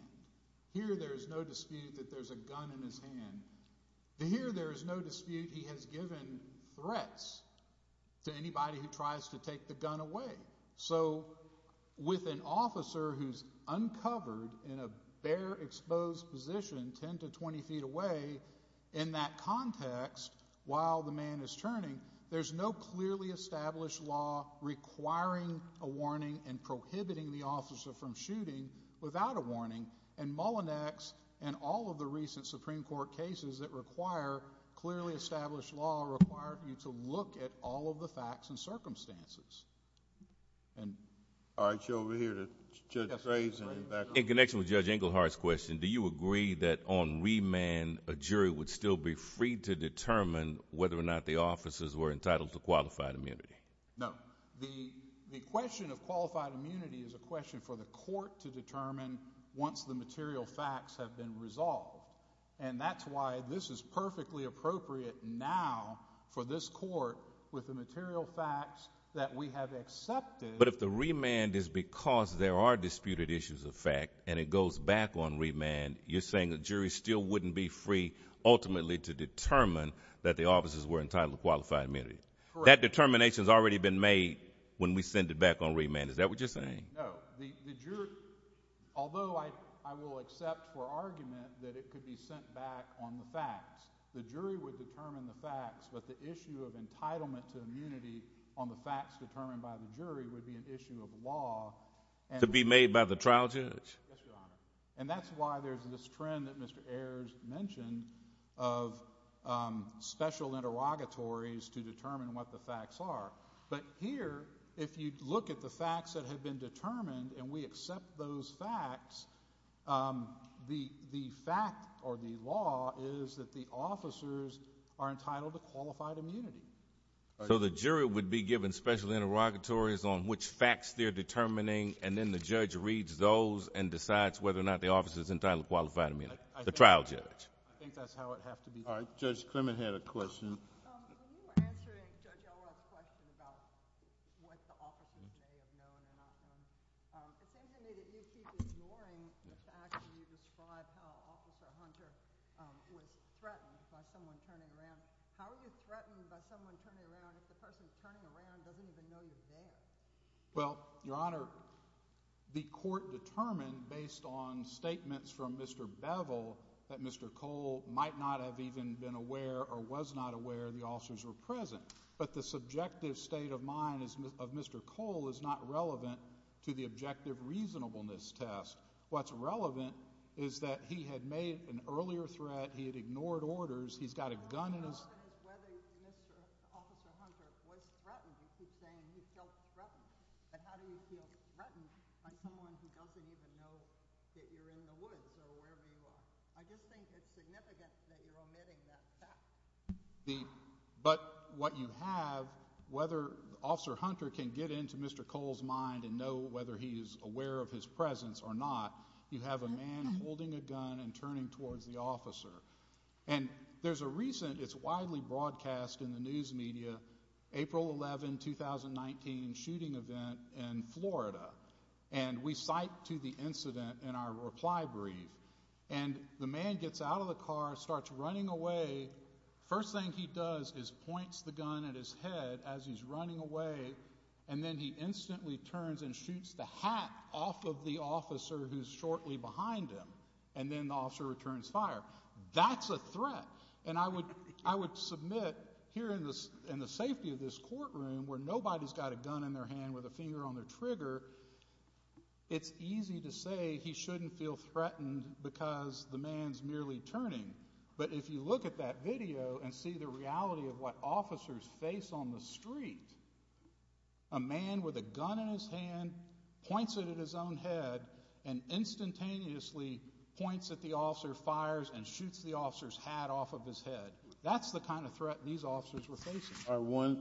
Here there's no dispute that there's a gun in his hand. And here there is no dispute he has given threats to anybody who tries to take the gun away. So with an officer who's uncovered in a bare, exposed position, 10 to 20 feet away, in that context, while the man is turning, there's no clearly established law requiring a warning and prohibiting the officer from shooting without a warning. And Mullinex and all of the recent Supreme Court cases that require clearly established law require you to look at all of the facts and circumstances. All right. So we're here to— In connection with Judge Engelhardt's question, do you agree that on remand a jury would still be free to determine whether or not the officers were entitled to qualified immunity? No. The question of qualified immunity is a question for the court to determine once the material facts have been resolved. And that's why this is perfectly appropriate now for this court with the material facts that we have accepted. But if the remand is because there are disputed issues of fact and it goes back on remand, you're saying the jury still wouldn't be free ultimately to determine that the officers were entitled to qualified immunity. Correct. That determination has already been made when we send it back on remand. Is that what you're saying? No. Although I will accept for argument that it could be sent back on the facts, the jury would determine the facts, but the issue of entitlement to immunity on the facts determined by the jury would be an issue of law. To be made by the trial judge? Yes, Your Honor. And that's why there's this trend that Mr. Ayers mentioned of special interrogatories to determine what the facts are. But here, if you look at the facts that have been determined and we accept those facts, the fact or the law is that the officers are entitled to qualified immunity. So the jury would be given special interrogatories on which facts they're determining, and then the judge reads those and decides whether or not the officers are entitled to qualified immunity. The trial judge. I think that's how it has to be done. All right. Judge Clement had a question. When you were answering Judge Owell's question about what the officers say is known and not known, it seems to me that you keep ignoring the fact that you described how Officer Hunter was threatened by someone turning around. if the person turning around doesn't even know you're there? Well, Your Honor, the court determined, based on statements from Mr. Bevel, that Mr. Cole might not have even been aware or was not aware the officers were present. But the subjective state of mind of Mr. Cole is not relevant to the objective reasonableness test. What's relevant is that he had made an earlier threat, he had ignored orders, he's got a gun in his hand. I don't know whether Mr. Officer Hunter was threatened. He's saying he felt threatened. But how do you feel threatened by someone who doesn't even know that you're in the woods, no matter where you are? I just think it's significant that you're omitting that fact. But what you have, whether Officer Hunter can get into Mr. Cole's mind and know whether he's aware of his presence or not, you have a man holding a gun and turning towards the officer. And there's a recent, it's widely broadcast in the news media, April 11, 2019 shooting event in Florida. And we cite to the incident in our reply brief. And the man gets out of the car, starts running away. First thing he does is points the gun at his head as he's running away, and then he instantly turns and shoots the hat off of the officer who's shortly behind him. And then the officer returns fire. That's a threat. And I would submit here in the safety of this courtroom, where nobody's got a gun in their hand with a finger on the trigger, it's easy to say he shouldn't feel threatened because the man's merely turning. But if you look at that video and see the reality of what officers face on the street, a man with a gun in his hand points it at his own head and instantaneously points at the officer, fires, and shoots the officer's hat off of his head. That's the kind of threat these officers were facing. All right, one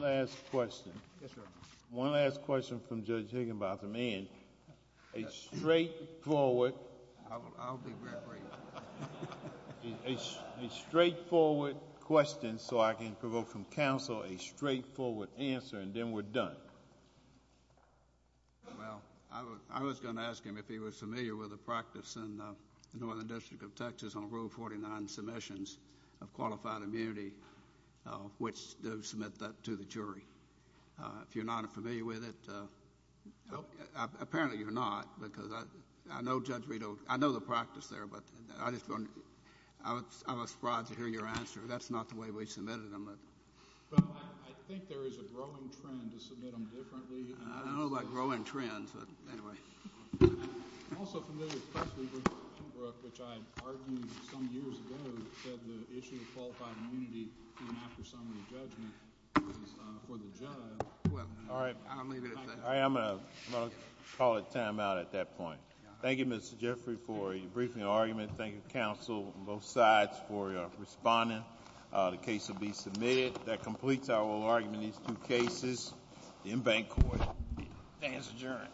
last question. Yes, sir. One last question from Judge Higginbotham. And a straightforward question so I can provoke from counsel a straightforward answer, and then we're done. Well, I was going to ask him if he was familiar with the practice in the Northern District of Texas on Rule 49 submissions of qualified immunity, which they'll submit that to the jury. If you're not familiar with it, apparently you're not, because I know the practice there, but I'm surprised to hear your answer. That's not the way we submitted them. I think there is a growing trend to submit them differently. I don't know about growing trends, but anyway. I'm also familiar, especially with Mr. Tumbrook, which I argued some years ago that the issue of qualified immunity came after some of the judgments for the judge. All right, I'm going to call a timeout at that point. Thank you, Mr. Jeffrey, for a brief argument. Thank you, counsel on both sides for responding. The case will be submitted. That completes our argument in these two cases in bank court. The case is adjourned.